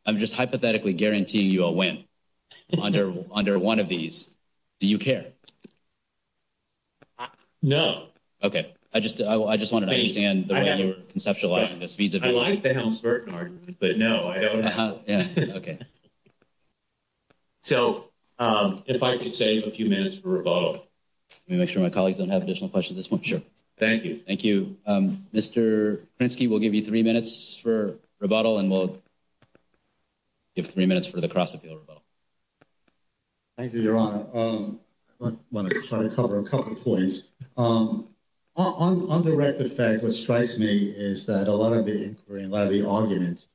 I'm just hypothetically guaranteeing you a win under one of these. Do you care? No. Okay. I just wanted to understand the way you're conceptualizing this vis-a-vis – I like the Helms-Burton argument, but no, I don't. Okay. So if I could save a few minutes for rebuttal. Let me make sure my colleagues don't have additional questions at this point. Sure. Thank you. Thank you. Mr. Krinsky, we'll give you three minutes for rebuttal, and we'll give three minutes for the cross-secular rebuttal. Thank you, Your Honor. I want to try to cover a couple of points. On the record fact, what strikes me is that a lot of the inquiry and a lot of the arguments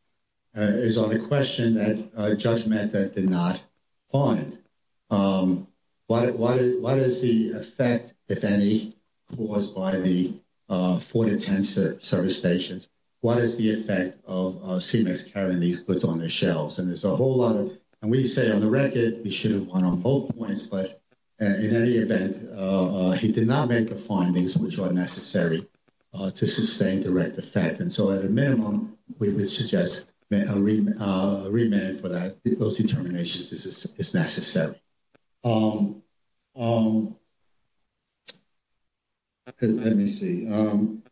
is on the question of a judgment that did not find. What is the effect, if any, caused by the 4 to 10 service stations? What is the effect of CMEX carrying these puts on their shelves? And there's a whole lot of – and we say on the record you shouldn't point on both points, but in any event, he did not make the findings which are necessary to sustain direct effect. And so at a minimum, we would suggest a remand for that if those determinations is necessary. Let me see.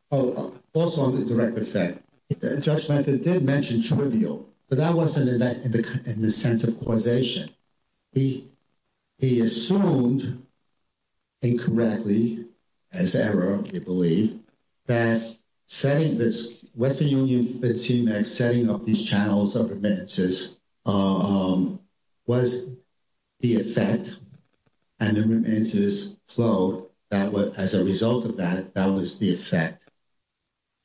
Also on the direct effect, the judgment did mention trivial, but that wasn't in the sense of causation. He assumed incorrectly, as error, we believe, that setting this – what the Union 15 Act setting up these channels of remittances was the effect, and the remittances flowed as a result of that. That was the effect.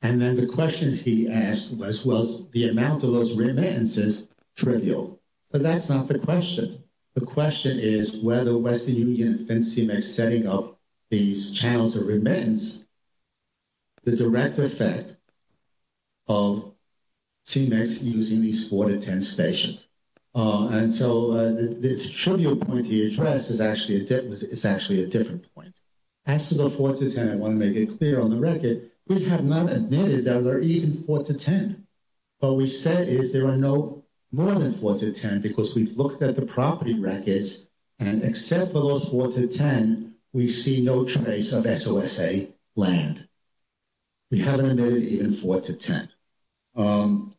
And then the question he asked was, well, the amount of those remittances trivial. Well, that's not the question. The question is whether Westby Union thinks CMEX setting up these channels of remittances is a direct effect of CMEX using these 4 to 10 stations. And so this trivial point he addressed is actually a different point. As to the 4 to 10, I want to make it clear on the record, we have not admitted that we're even 4 to 10. What we said is there are no more than 4 to 10 because we've looked at the property records, and except for those 4 to 10, we see no trace of SOSA land. We haven't admitted even 4 to 10. On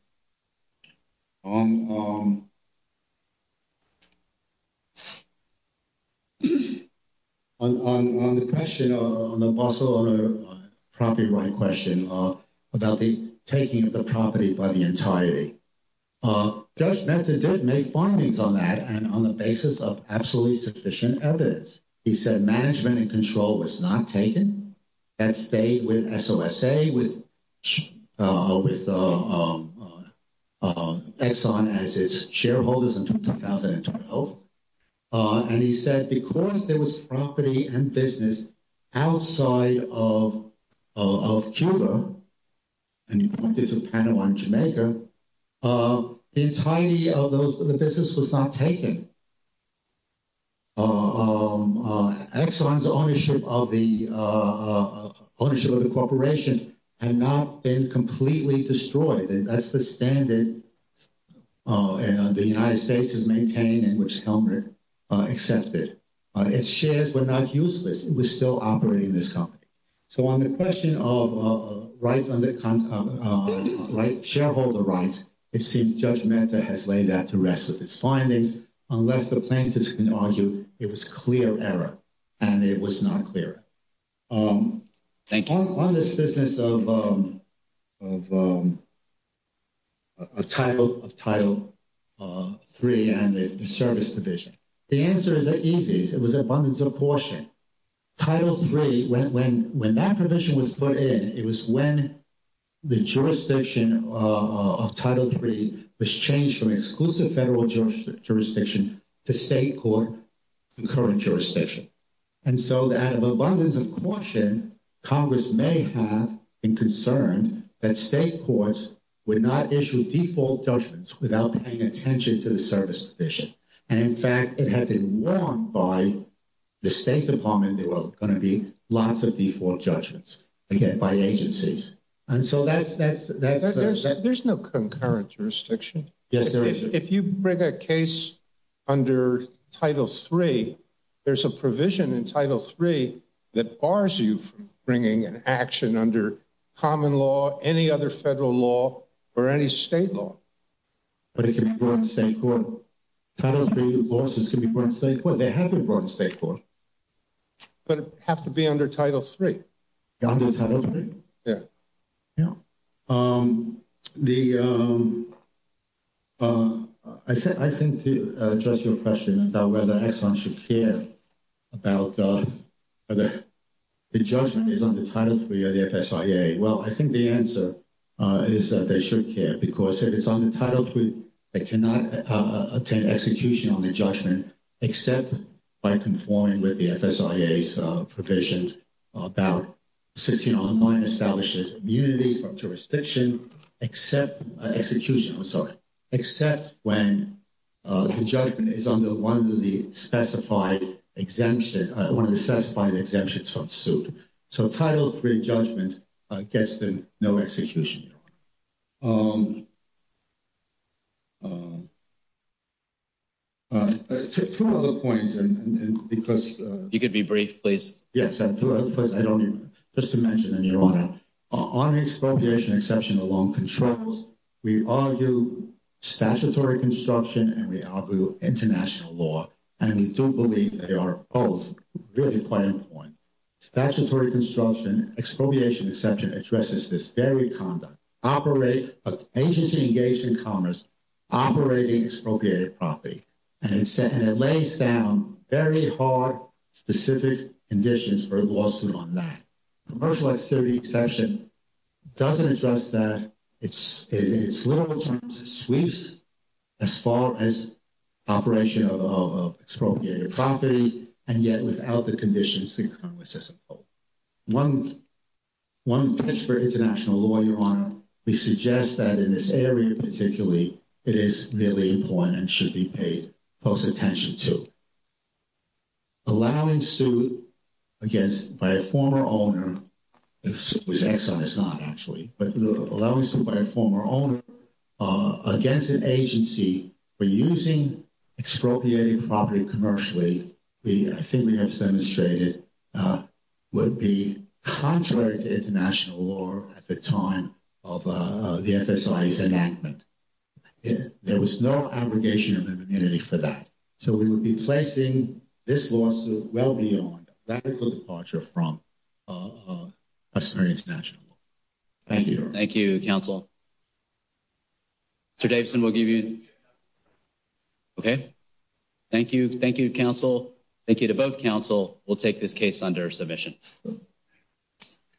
the question – also on the property right question about the taking of the property by the entirety, Judge Benson did make findings on that, and on the basis of absolutely sufficient evidence. He said management and control was not taken. That stayed with SOSA, with Exxon as its shareholders until 2012. And he said because there was property and business outside of Cuba – and he pointed to Panama and Jamaica – the entirety of the business was not taken. Exxon's ownership of the corporation had not been completely destroyed. That's the standard the United States has maintained and which Helmut accepted. Its shares were not useless. It was still operating as a company. So on the question of rights under – shareholder rights, it seems Judge Mehta has laid out the rest of his findings. Unless the plaintiffs can argue, it was clear error, and it was not clear. Thank you. On this business of Title III and the service provision, the answer is that easy. It was abundance of portion. Title III, when that provision was put in, it was when the jurisdiction of Title III was changed from exclusive federal jurisdiction to state court and current jurisdiction. And so that abundance of portion, Congress may have been concerned that state courts would not issue default judgments without paying attention to the service provision. And, in fact, it had been wronged by the State Department. There were going to be lots of default judgments, again, by agencies. And so that's – There's no concurrent jurisdiction. Yes, there is. But if you bring a case under Title III, there's a provision in Title III that bars you from bringing an action under common law, any other federal law, or any state law. But it can't go in state court. Title III laws can't go in state court. They have to go in state court. But it would have to be under Title III. Under Title III? Yes. Yeah. The – I think to address your question about whether Exxon should care about whether the judgment is under Title III or the FSIA, well, I think the answer is that they should care. Because if it's under Title III, they cannot obtain execution on the judgment except by conforming with the FSIA's provisions about existing online establishes immunity for jurisdiction except – execution. I'm sorry. Except when the judgment is under one of the specified exemptions – one of the specified exemptions from suit. So Title III judgment gets them no execution. Two other points, because – If you could be brief, please. Yes. I don't need – just to mention in your honor, on expropriation exception alone controls, we argue statutory construction and we argue international law. And we do believe that they are both really quite important. Statutory construction expropriation exception addresses this very conduct. Operate – agency engaged in commerce operating expropriated property. And it lays down very hard, specific conditions for a lawsuit on that. Commercial expiry exception doesn't address that. It's – in its literal terms, it sweeps as far as operation of expropriated property and yet without the conditions being conformed with system code. One – thanks for international law, your honor. We suggest that in this area particularly, it is really important and should be paid close attention to. Allowing suit against – by a former owner, whose exon is not actually, but allowing suit by a former owner against an agency for using expropriated property commercially, the thing that's demonstrated would be contrary to international law at the time of the FSIA's enactment. There was no abrogation of immunity for that. So we would be placing this lawsuit well beyond a radical departure from a serious national law. Thank you, your honor. Thank you, counsel. Mr. Davidson, we'll give you – okay. Thank you. Thank you, counsel. Thank you to both counsel. We'll take this case under submission.